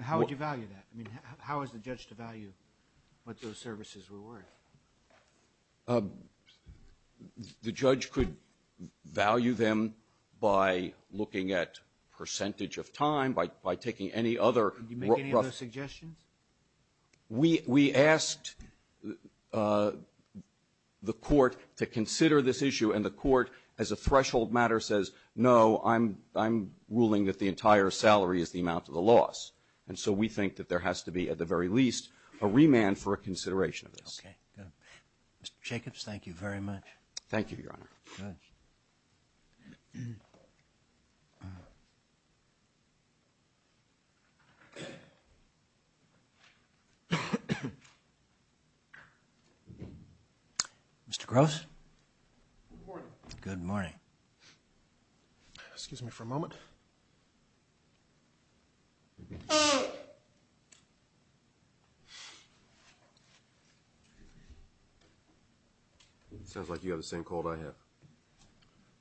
How would you value that? I mean, how is the judge to value what those services were worth? The judge could value them by looking at percentage of time, by taking any other... Did you make any other suggestions? We asked the court to consider this issue, and the court, as a threshold matter, says, no, I'm ruling that the entire salary is the amount of the loss, and so we think that there has to be, at the very least, a remand for a consideration of this. Mr. Jacobs, thank you very much. Thank you, Your Honor. Mr. Gross? Good morning. Excuse me for a moment. Oh. It sounds like you have the same cold I have.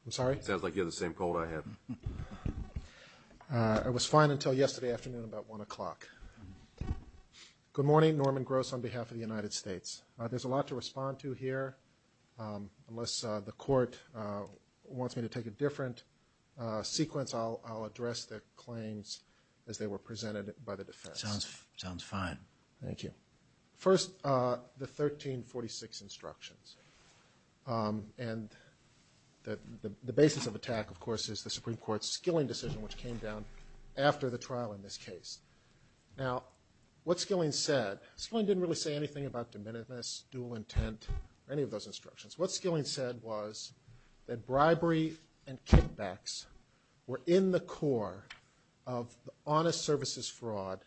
I'm sorry? It sounds like you have the same cold I have. It was fine until yesterday afternoon about 1 o'clock. Good morning. Norman Gross on behalf of the United States. There's a lot to respond to here. Unless the court wants me to take a different sequence, I'll address the claims as they were presented by the defense. Sounds fine. Thank you. First, the 1346 instructions. And the basis of the attack, of course, is the Supreme Court's Skilling decision, which came down after the trial in this case. Now, what Skilling said, Skilling didn't really say anything about dementedness, dual intent, or any of those instructions. What Skilling said was that bribery and kickbacks were in the core of the honest services fraud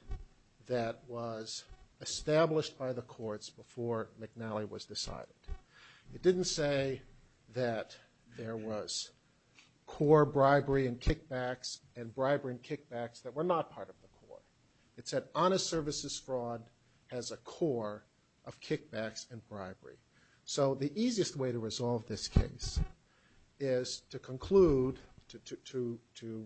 that was established by the courts before McNally was decided. It didn't say that there was core bribery and kickbacks and bribery and kickbacks that were not part of the court. It said honest services fraud has a core of kickbacks and bribery. So the easiest way to resolve this case is to conclude, to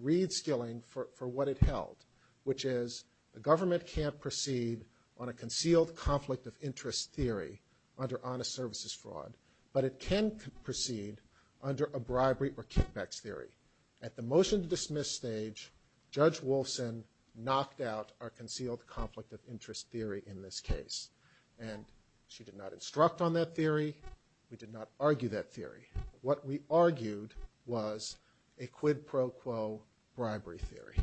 read Skilling for what it held, which is the government can't proceed on a concealed conflict of interest theory under honest services fraud, but it can proceed under a bribery or kickbacks theory. At the motion to dismiss stage, Judge Wilson knocked out our concealed conflict of interest theory in this case. And she did not instruct on that theory. We did not argue that theory. What we argued was a quid pro quo bribery theory.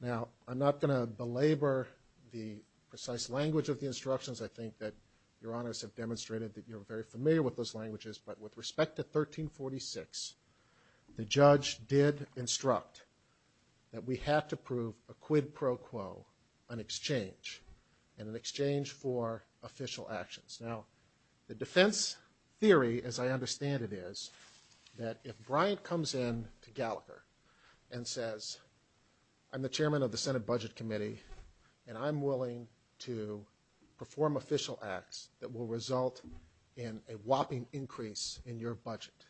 Now, I'm not going to belabor the precise language of the instructions. I think that Your Honors have demonstrated that you're very familiar with those languages, but with respect to 1346, the judge did instruct that we have to prove a quid pro quo, an exchange, and an exchange for official actions. Now, the defense theory, as I understand it, is that if Bryant comes in to Gallagher and says, I'm the chairman of the Senate Budget Committee and I'm willing to perform official acts that will result in a whopping increase in your budget.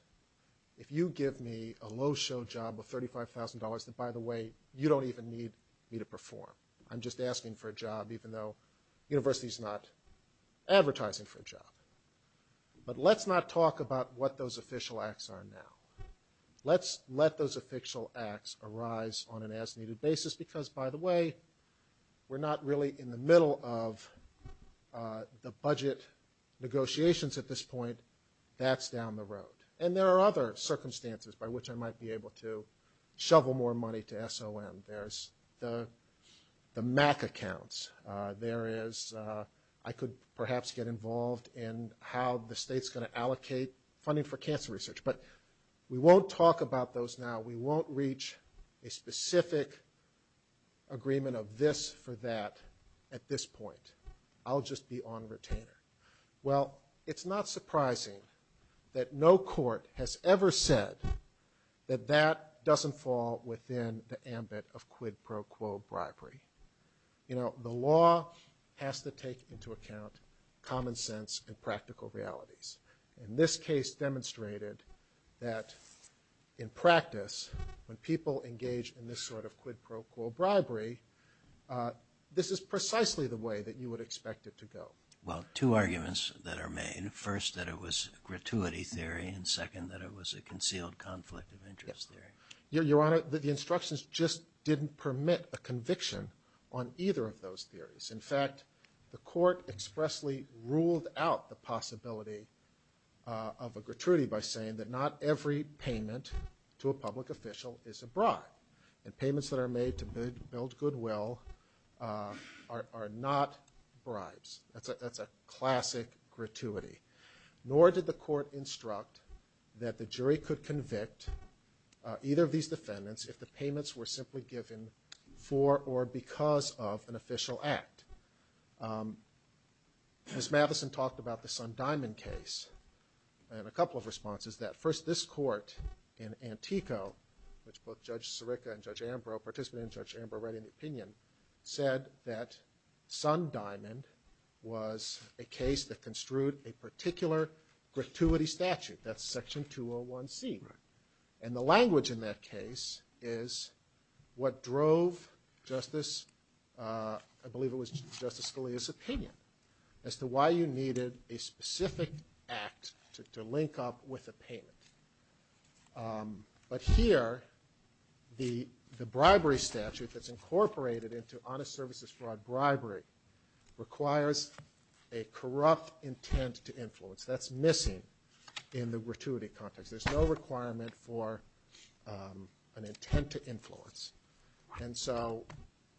If you give me a low show job of $35,000, by the way, you don't even need me to perform. I'm just asking for a job, even though the university's not advertising for a job. But let's not talk about what those official acts are now. Let's let those official acts arise on an as-needed basis, because, by the way, we're not really in the middle of the budget negotiations at this point. That's down the road. And there are other circumstances by which I might be able to shovel more money to SOM. There's the MAC accounts. There is, I could perhaps get involved in how the state's going to allocate funding for cancer research. But we won't talk about those now. We won't reach a specific agreement of this for that at this point. I'll just be on retainer. Well, it's not surprising that no court has ever said that that doesn't fall within the ambit of quid pro quo bribery. The law has to take into account common sense and practical realities. And this case demonstrated that, in practice, when people engage in this sort of quid pro quo bribery, this is precisely the way that you would expect it to go. Well, two arguments that are made. First, that it was a gratuity theory, and second, that it was a concealed conflict of interest theory. Your Honor, the instructions just didn't permit a conviction on either of those theories. In fact, the court expressly ruled out the possibility of a gratuity by saying that not every payment to a public official is a bribe, and payments that are made to build goodwill are not bribes. That's a classic gratuity. Nor did the court instruct that the jury could convict either of these defendants if the payments were simply given for or because of an official act. Ms. Madison talked about the Sundiamond case. I have a couple of responses to that. First, this court in Antico, which both Judge Sirica and Judge Ambro, said that Sundiamond was a case that construed a particular gratuity statute. That's Section 201C. And the language in that case is what drove Justice Scalia's opinion as to why you needed a specific act to link up with a payment. But here, the bribery statute that's incorporated into honest services fraud bribery requires a corrupt intent to influence. That's missing in the gratuity context. There's no requirement for an intent to influence. And so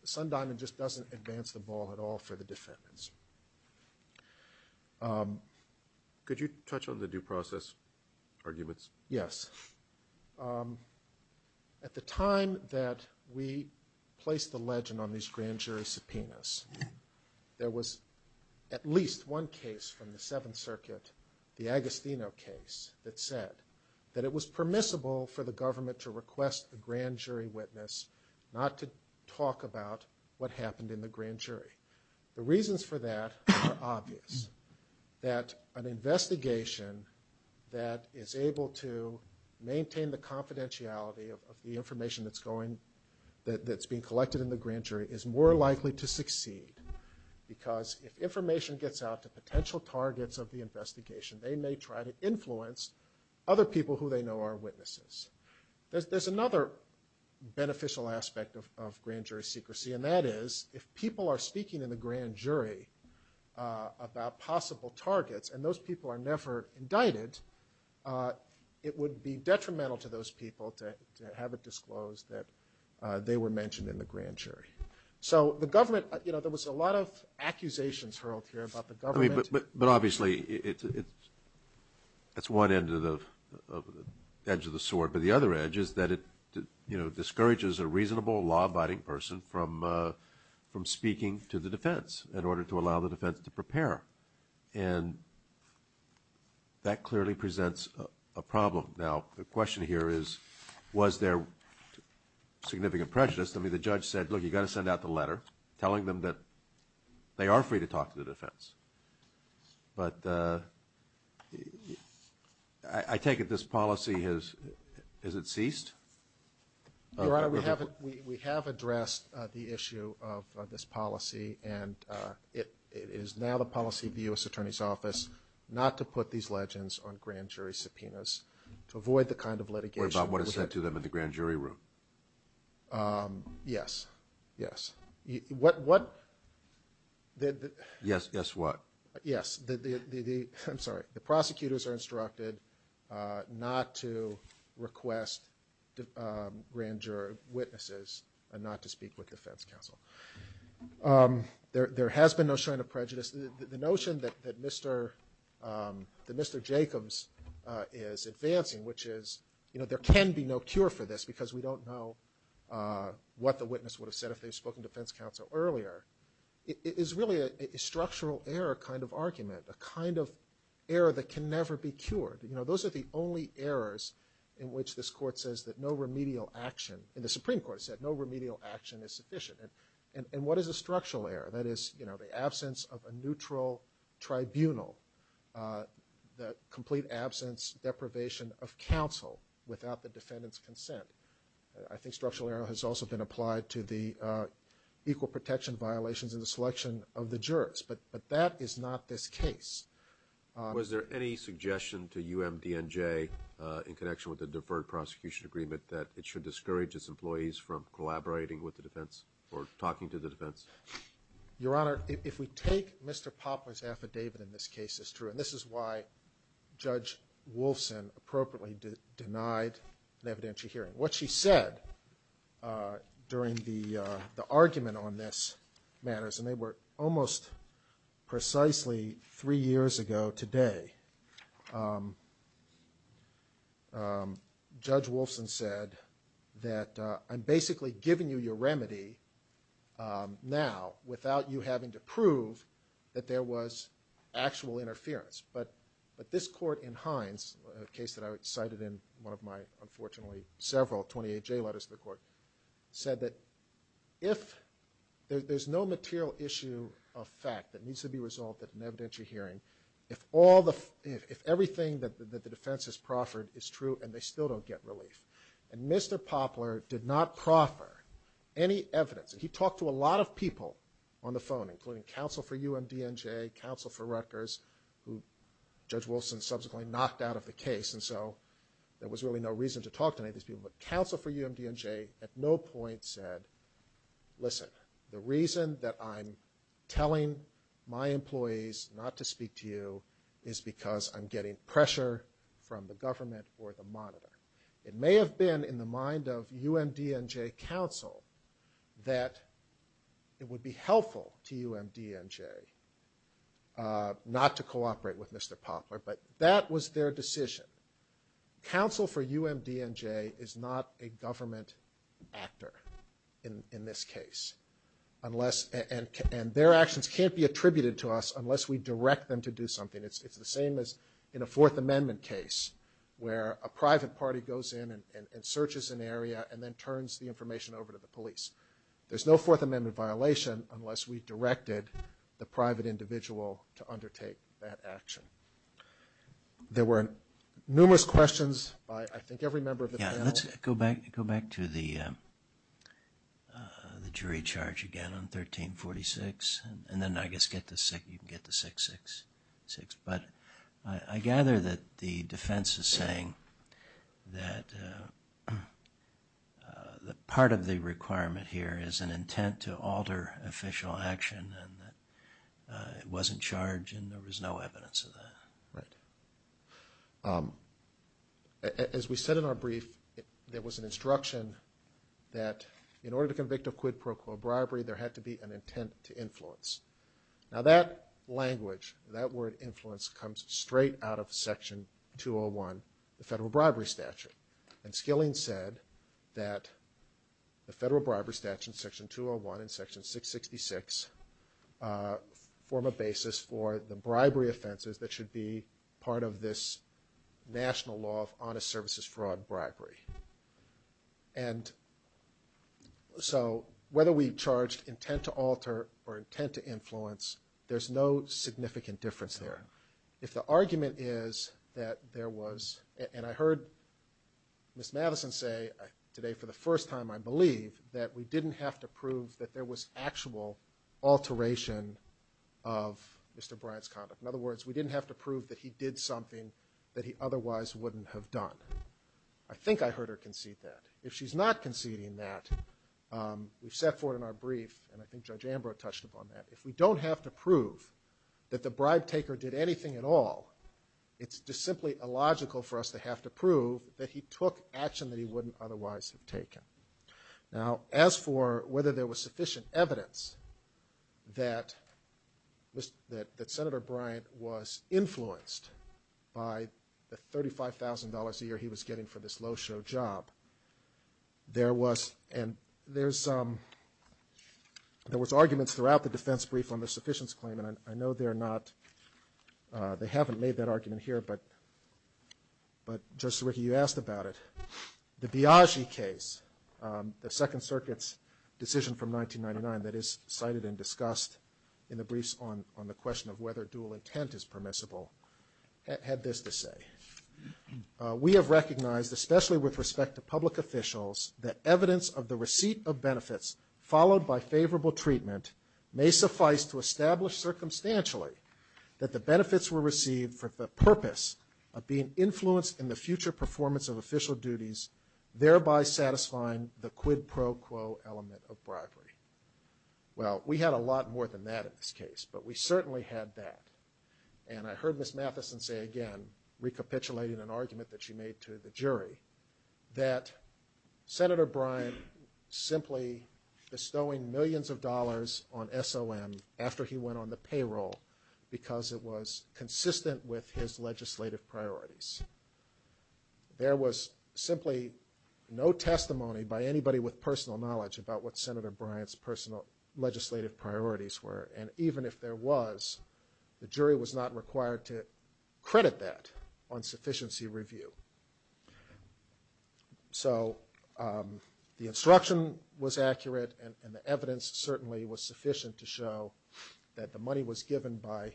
Sundiamond just doesn't advance the ball at all for the defendants. Could you touch on the due process arguments? Yes. At the time that we placed the legend on these grand jury subpoenas, there was at least one case from the Seventh Circuit, the Agostino case, that said that it was permissible for the government to request the grand jury witness not to talk about what happened in the grand jury. The reasons for that are obvious, that an investigation that is able to maintain the confidentiality of the information that's being collected in the grand jury is more likely to succeed because if information gets out to potential targets of the investigation, they may try to influence other people who they know are witnesses. There's another beneficial aspect of grand jury secrecy, and that is if people are speaking in the grand jury about possible targets and those people are never indicted, it would be detrimental to those people to have it disclosed that they were mentioned in the grand jury. So the government, you know, there was a lot of accusations hurled here about the government. But obviously it's one end of the sword. But the other edge is that it discourages a reasonable law-abiding person from speaking to the defense in order to allow the defense to prepare. And that clearly presents a problem. Now, the question here is, was there significant pressure? I mean, the judge said, look, you've got to send out the letter telling them that they are free to talk to the defense. But I take it this policy has ceased? We have addressed the issue of this policy, and it is now the policy of the U.S. Attorney's Office not to put these legends on grand jury subpoenas to avoid the kind of litigation. What about what is said to them in the grand jury room? Yes, yes. What? Yes, yes what? Yes. I'm sorry. The prosecutors are instructed not to request grand jury witnesses not to speak with the defense counsel. There has been no shred of prejudice. The notion that Mr. Jacobs is advancing, which is, you know, there can be no cure for this because we don't know what the witness would have said if they had spoken to defense counsel earlier, is really a structural error kind of argument, a kind of error that can never be cured. You know, those are the only errors in which this Court says that no remedial action, and the Supreme Court said no remedial action is sufficient. And what is a structural error? That is, you know, the absence of a neutral tribunal, the complete absence, deprivation of counsel without the defendant's consent. I think structural error has also been applied to the equal protection violations in the selection of the jurors. But that is not this case. Was there any suggestion to UMDNJ in connection with the deferred prosecution agreement that it should discourage its employees from collaborating with the defense or talking to the defense? Your Honor, if we take Mr. Poplar's affidavit in this case, it's true, and this is why Judge Wolfson appropriately denied an evidentiary hearing. What she said during the argument on this matter, and they were almost precisely three years ago today, Judge Wolfson said that I'm basically giving you your remedy now without you having to prove that there was actual interference. But this Court in Hines, a case that I cited in one of my, unfortunately, several 28J letters to the Court, said that if there's no material issue of fact that needs to be resolved at an evidentiary hearing, if everything that the defense has proffered is true and they still don't get relief. And Mr. Poplar did not proffer any evidence. He talked to a lot of people on the phone, including counsel for UMDNJ, counsel for Rutgers, who Judge Wolfson subsequently knocked out of the case, and so there was really no reason to talk to him. Counsel for UMDNJ at no point said, listen, the reason that I'm telling my employees not to speak to you is because I'm getting pressure from the government for the monitor. It may have been in the mind of UMDNJ counsel that it would be helpful to UMDNJ not to cooperate with Mr. Poplar, but that was their decision. Counsel for UMDNJ is not a government actor in this case, and their actions can't be attributed to us unless we direct them to do something. It's the same as in a Fourth Amendment case where a private party goes in and searches an area and then turns the information over to the police. There's no Fourth Amendment violation unless we directed the private individual to undertake that action. There were numerous questions by I think every member of the panel. Let's go back to the jury charge again on 1346, and then I guess you can get to 666, but I gather that the defense is saying that part of the requirement here is an intent to alter official action and that it wasn't charged and there was no evidence of that. Right. As we said in our brief, there was an instruction that in order to convict a quid pro quo bribery, there had to be an intent to influence. Now that language, that word influence, comes straight out of Section 201, the Federal Bribery Statute, and Skilling said that the Federal Bribery Statute in Section 201 and Section 666 form a basis for the bribery offenses that should be part of this national law of honest services fraud bribery. And so whether we charged intent to alter or intent to influence, there's no significant difference there. If the argument is that there was, and I heard Ms. Madison say today for the first time I believe, that we didn't have to prove that there was actual alteration of Mr. Bryant's conduct. In other words, we didn't have to prove that he did something that he otherwise wouldn't have done. I think I heard her concede that. If she's not conceding that, we've set forth in our brief, and I think Judge Ambrose touched upon that, if we don't have to prove that the bribe taker did anything at all, it's just simply illogical for us to have to prove that he took action that he wouldn't otherwise have taken. Now as for whether there was sufficient evidence that Senator Bryant was influenced by the $35,000 a year he was getting for this low show job, there was arguments throughout the defense brief on the sufficiency claim, and I know they're not, they haven't made that argument here, but Judge Sirica, you asked about it. The Biagi case, the Second Circuit's decision from 1999 that is cited and discussed in the briefs on the question of whether dual intent is permissible, had this to say. We have recognized, especially with respect to public officials, that evidence of the receipt of benefits followed by favorable treatment may suffice to establish circumstantially that the benefits were received for the purpose of being influenced in the future performance of official duties, thereby satisfying the quid pro quo element of bribery. Well, we had a lot more than that in this case, but we certainly had that. And I heard Ms. Mathison say again, recapitulating an argument that she made to the jury, that Senator Bryant simply bestowing millions of dollars on SOM after he went on the payroll because it was consistent with his legislative priorities. There was simply no testimony by anybody with personal knowledge about what Senator Bryant's personal legislative priorities were, and even if there was, the jury was not required to credit that on sufficiency review. So the instruction was accurate, and the evidence certainly was sufficient to show that the money was given by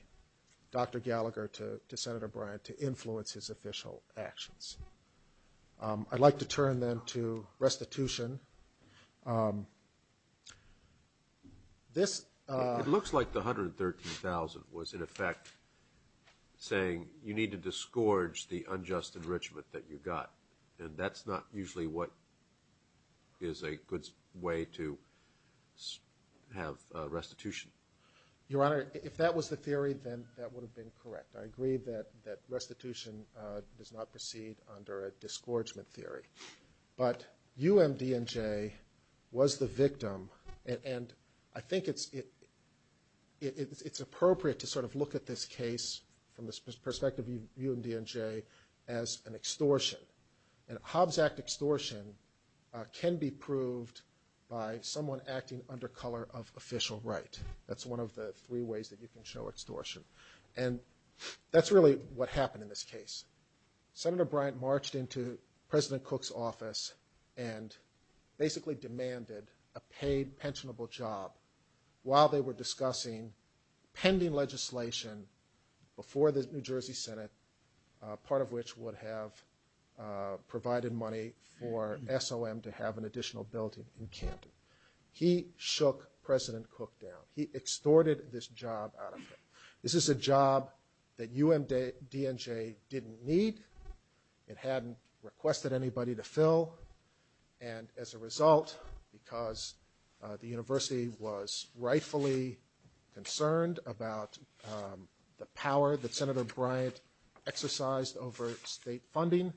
Dr. Gallagher to Senator Bryant to influence his official actions. I'd like to turn then to restitution. It looks like the $113,000 was in effect saying you need to disgorge the unjust enrichment that you got, and that's not usually what is a good way to have restitution. Your Honor, if that was the theory, then that would have been correct. I agree that restitution does not proceed under a disgorgement theory. But UMDNJ was the victim, and I think it's appropriate to sort of look at this case from the perspective of UMDNJ as an extortion, and Hobbs Act extortion can be proved by someone acting under color of official right. That's one of the three ways that you can show extortion, and that's really what happened in this case. Senator Bryant marched into President Cook's office and basically demanded a paid pensionable job while they were discussing pending legislation before the New Jersey Senate, part of which would have provided money for SOM to have an additional building in Camden. He shook President Cook down. He extorted this job out of him. This is a job that UMDNJ didn't need. It hadn't requested anybody to fill, and as a result, because the university was rightfully concerned about the power that Senator Bryant exercised over state funding.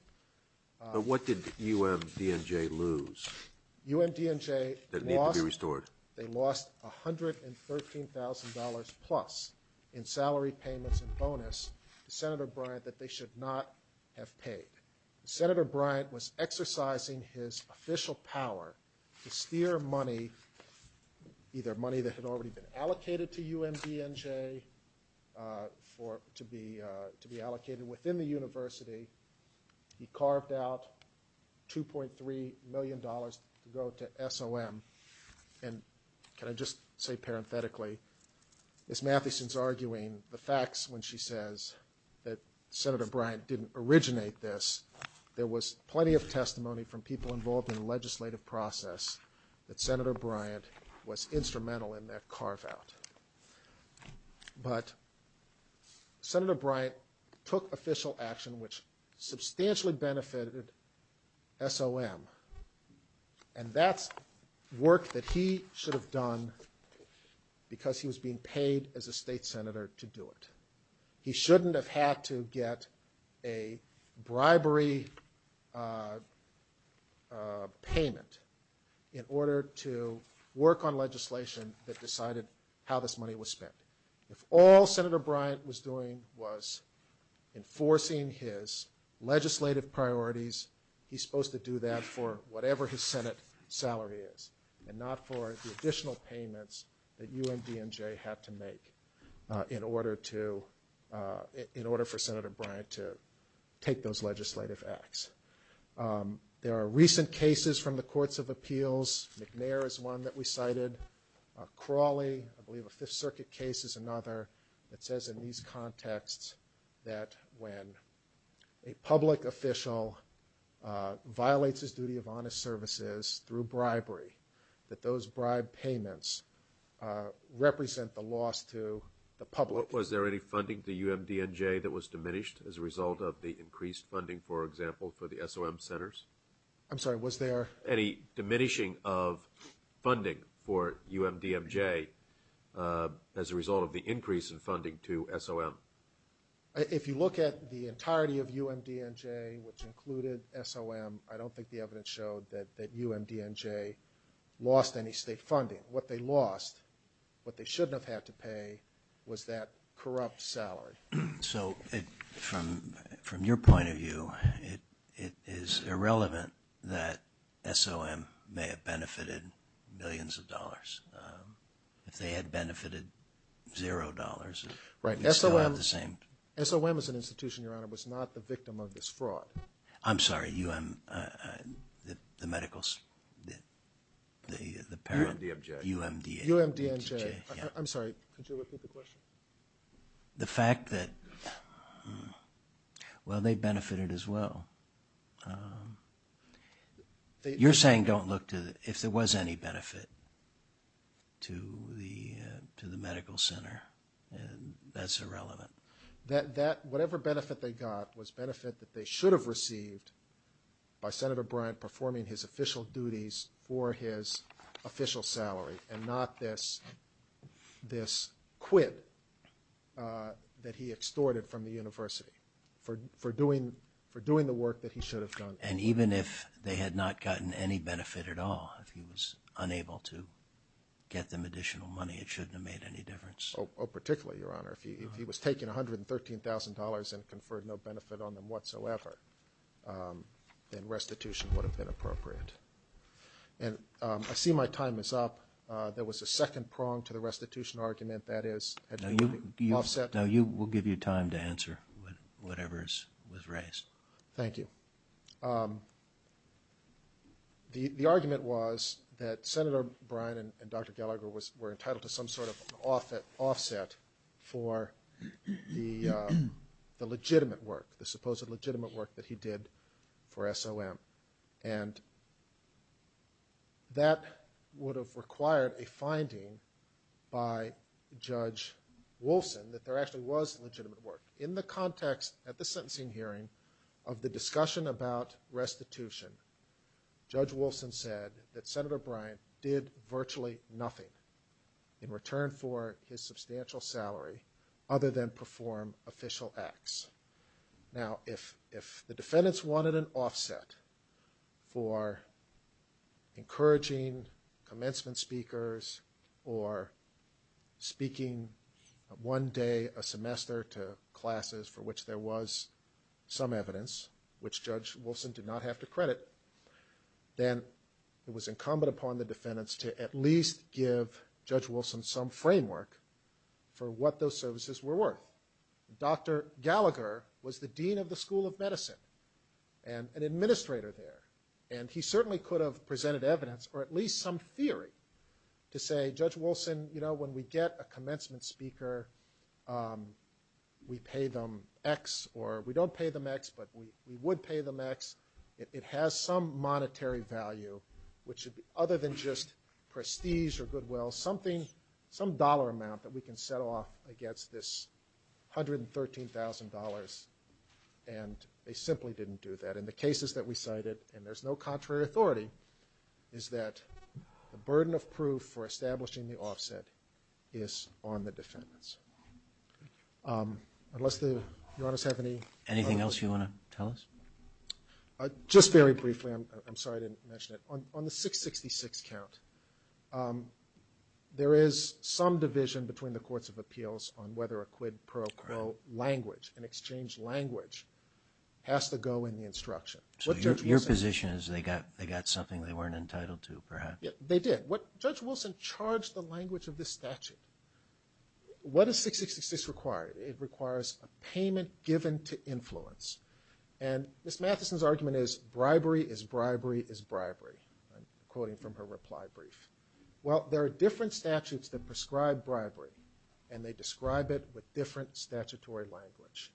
But what did UMDNJ lose that needed to be restored? They lost $113,000 plus in salary payments and bonus to Senator Bryant that they should not have paid. Senator Bryant was exercising his official power to steer money, either money that had already been allocated to UMDNJ to be allocated within the university. He carved out $2.3 million to go to SOM. And can I just say parenthetically, Ms. Mathieson's arguing the facts when she says that Senator Bryant didn't originate this. There was plenty of testimony from people involved in the legislative process that Senator Bryant was instrumental in that carve out. But Senator Bryant took official action, which substantially benefited SOM. And that's work that he should have done because he was being paid as a state senator to do it. He shouldn't have had to get a bribery payment in order to work on legislation that decided how this money was spent. If all Senator Bryant was doing was enforcing his legislative priorities, he's supposed to do that for whatever his Senate salary is, and not for the additional payments that UMDNJ had to make in order for Senator Bryant to take those legislative acts. There are recent cases from the courts of appeals. McNair is one that we cited. Crawley, I believe a Fifth Circuit case is another, that says in these contexts that when a public official violates his duty of honest services through bribery, that those bribe payments represent a loss to the public. Was there any funding for UMDNJ that was diminished as a result of the increased funding, for example, for the SOM centers? I'm sorry, was there? Was there any diminishing of funding for UMDNJ as a result of the increase in funding to SOM? If you look at the entirety of UMDNJ, which included SOM, I don't think the evidence showed that UMDNJ lost any state funding. What they lost, what they shouldn't have had to pay, was that corrupt salary. So, from your point of view, it is irrelevant that SOM may have benefited millions of dollars. If they had benefited zero dollars, it's not the same. SOM as an institution, Your Honor, was not the victim of this fraud. I'm sorry, UM, the medicals, the parent. UMDNJ. UMDNJ. I'm sorry, could you repeat the question? The fact that, well, they benefited as well. You're saying don't look to, if there was any benefit to the medical center, that's irrelevant. Whatever benefit they got was benefit that they should have received by Senator Bryant performing his official duties for his official salary, and not this quit that he extorted from the university for doing the work that he should have done. And even if they had not gotten any benefit at all, if he was unable to get them additional money, it shouldn't have made any difference. Oh, particularly, Your Honor, if he was taking $113,000 and conferred no benefit on them whatsoever, then restitution would have been appropriate. And I see my time is up. There was a second prong to the restitution argument, that is. Now, we'll give you time to answer whatever was raised. Thank you. The argument was that Senator Bryant and Dr. Gallagher were entitled to some sort of offset for the legitimate work, the supposed legitimate work that he did for SOM. And that would have required a finding by Judge Wilson that there actually was legitimate work. In the context at the sentencing hearing of the discussion about restitution, Judge Wilson said that Senator Bryant did virtually nothing in return for his substantial salary other than perform official acts. Now, if the defendants wanted an offset for encouraging commencement speakers or speaking one day a semester to classes for which there was some evidence, which Judge Wilson did not have to credit, then it was incumbent upon the defendants to at least give Judge Wilson some framework for what those services were worth. Dr. Gallagher was the dean of the School of Medicine and an administrator there, and he certainly could have presented evidence or at least some theory to say, Judge Wilson, you know, when we get a commencement speaker, we pay them X, or we don't pay them X, but we would pay them X. It has some monetary value, which other than just prestige or goodwill, some dollar amount that we can sell off against this $113,000, and they simply didn't do that. And the cases that we cited, and there's no contrary authority, is that the burden of proof for establishing the offset is on the defendants. Anything else you want to tell us? Just very briefly, I'm sorry I didn't mention it. On the 666 count, there is some division between the courts of appeals on whether a quid pro quo language, an exchange language, has to go in the instruction. So your position is they got something they weren't entitled to, perhaps? They did. Judge Wilson charged the language of this statute. What does 666 require? It requires a payment given to influence. And Ms. Mathison's argument is bribery is bribery is bribery, quoting from her reply brief. Well, there are different statutes that prescribe bribery, and they describe it with different statutory language.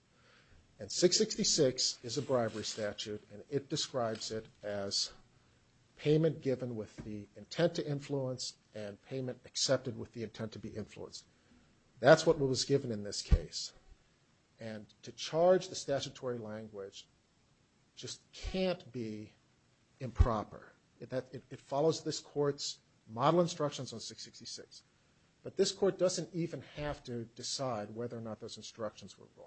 And 666 is a bribery statute, and it describes it as payment given with the intent to influence and payment accepted with the intent to be influenced. That's what was given in this case. And to charge the statutory language just can't be improper. It follows this court's model instructions on 666. But this court doesn't even have to decide whether or not those instructions were wrong.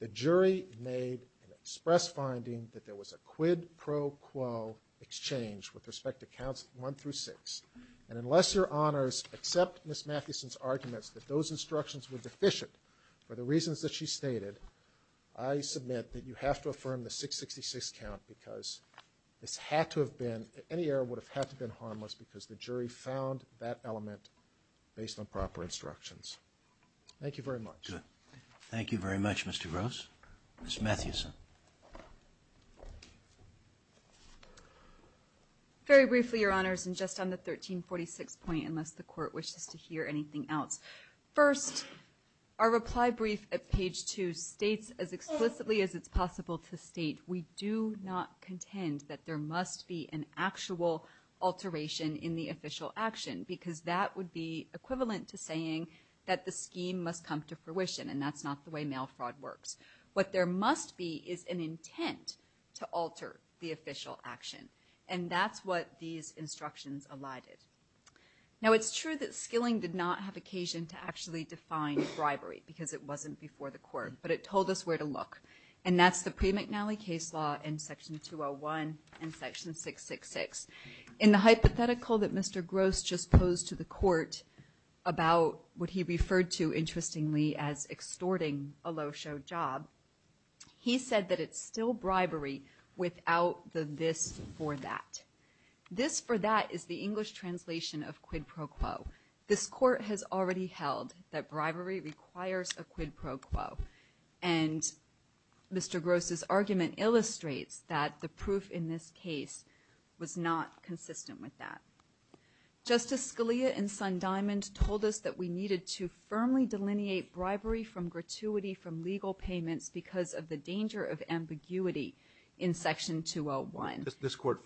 The jury made an express finding that there was a quid pro quo exchange with respect to counts one through six. And unless Your Honors accept Ms. Mathison's argument that those instructions were deficient for the reasons that she stated, I submit that you have to affirm the 666 count because it had to have been, any error would have had to have been harmless because the jury found that element based on proper instructions. Thank you very much. Thank you very much, Mr. Gross. Ms. Mathison. Very briefly, Your Honors, and just on the 1346 point, unless the court wishes to hear anything else. First, our reply brief at page two states as explicitly as it's possible to state, we do not contend that there must be an actual alteration in the official action because that would be equivalent to saying that the scheme must come to fruition, and that's not the way mail fraud works. What there must be is an intent to alter the official action, and that's what these instructions allotted. Now, it's true that Skilling did not have occasion to actually define bribery because it wasn't before the court, but it told us where to look, and that's the pre-McNally case law in section 201 and section 666. In the hypothetical that Mr. Gross just posed to the court about what he referred to, interestingly, as extorting a low show job, he said that it's still bribery without the this for that. This for that is the English translation of quid pro quo. This court has already held that bribery requires a quid pro quo, and Mr. Gross's argument illustrates that the proof in this case was not consistent with that. Justice Scalia and Son-Diamond told us that we needed to firmly delineate bribery from gratuity from legal payment because of the danger of ambiguity in section 201. This court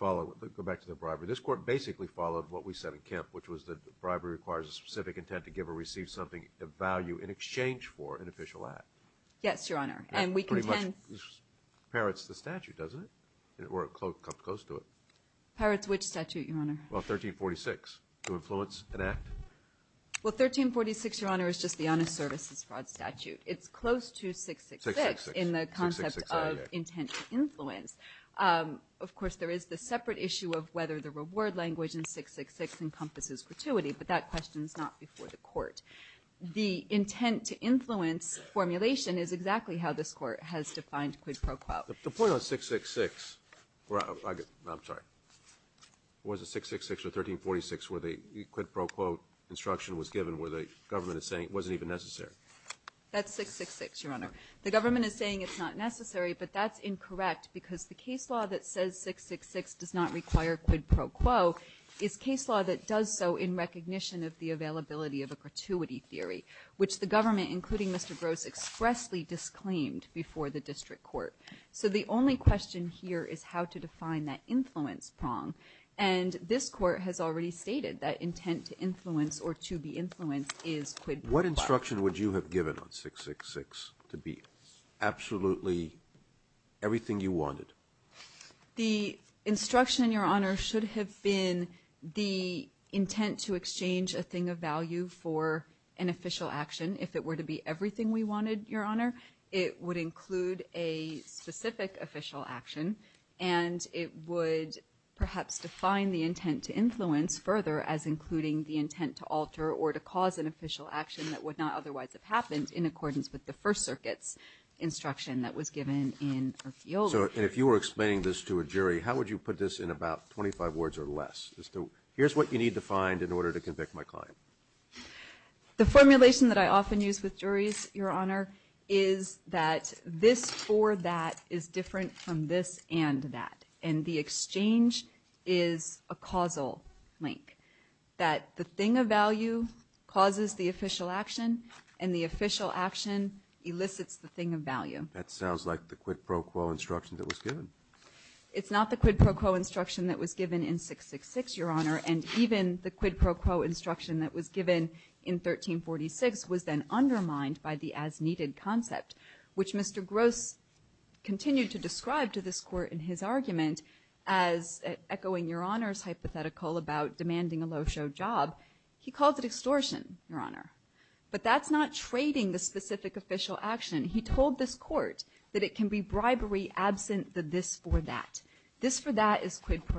basically followed what we said in Kemp, which was that bribery requires a specific intent to give or receive something of value in exchange for an official act. Yes, Your Honor, and we contend... It pretty much parrots the statute, doesn't it, or it comes close to it. Parrots which statute, Your Honor? Well, 1346, to influence an act. Well, 1346, Your Honor, is just the honest services fraud statute. It's close to 666 in the concept of intent to influence. Of course, there is the separate issue of whether the reward language in 666 encompasses gratuity, but that question is not before the court. The intent to influence formulation is exactly how this court has defined quid pro quo. The point on 666... I'm sorry. Was it 666 or 1346 where the quid pro quo instruction was given where the government is saying it wasn't even necessary? That's 666, Your Honor. The government is saying it's not necessary, but that's incorrect because the case law that says 666 does not require quid pro quo is case law that does so in recognition of the availability of a gratuity theory, which the government, including Mr. Gross, expressly disclaimed before the district court. So the only question here is how to define that influence prong, and this court has already stated that intent to influence or to be influenced is quid pro quo. What instruction would you have given on 666 to be absolutely everything you wanted? The instruction, Your Honor, should have been the intent to exchange a thing of value for an official action. If it were to be everything we wanted, Your Honor, it would include a specific official action, and it would perhaps define the intent to influence further as including the intent to alter or to cause an official action that would not otherwise have happened in accordance with the First Circuit's instruction that was given in Osceola. And if you were explaining this to a jury, how would you put this in about 25 words or less? Here's what you need to find in order to convict my client. The formulation that I often use with juries, Your Honor, is that this for that is different from this and that, and the exchange is a causal link, that the thing of value causes the official action and the official action elicits the thing of value. That sounds like the quid pro quo instruction that was given. It's not the quid pro quo instruction that was given in 666, Your Honor, and even the quid pro quo instruction that was given in 1346 was then undermined by the as-needed concept, which Mr. Gross continued to describe to this court in his argument, as echoing Your Honor's hypothetical about demanding a low-show job. He called it extortion, Your Honor, but that's not trading the specific official action. He told this court that it can be bribery absent the this for that. This for that is quid pro quo.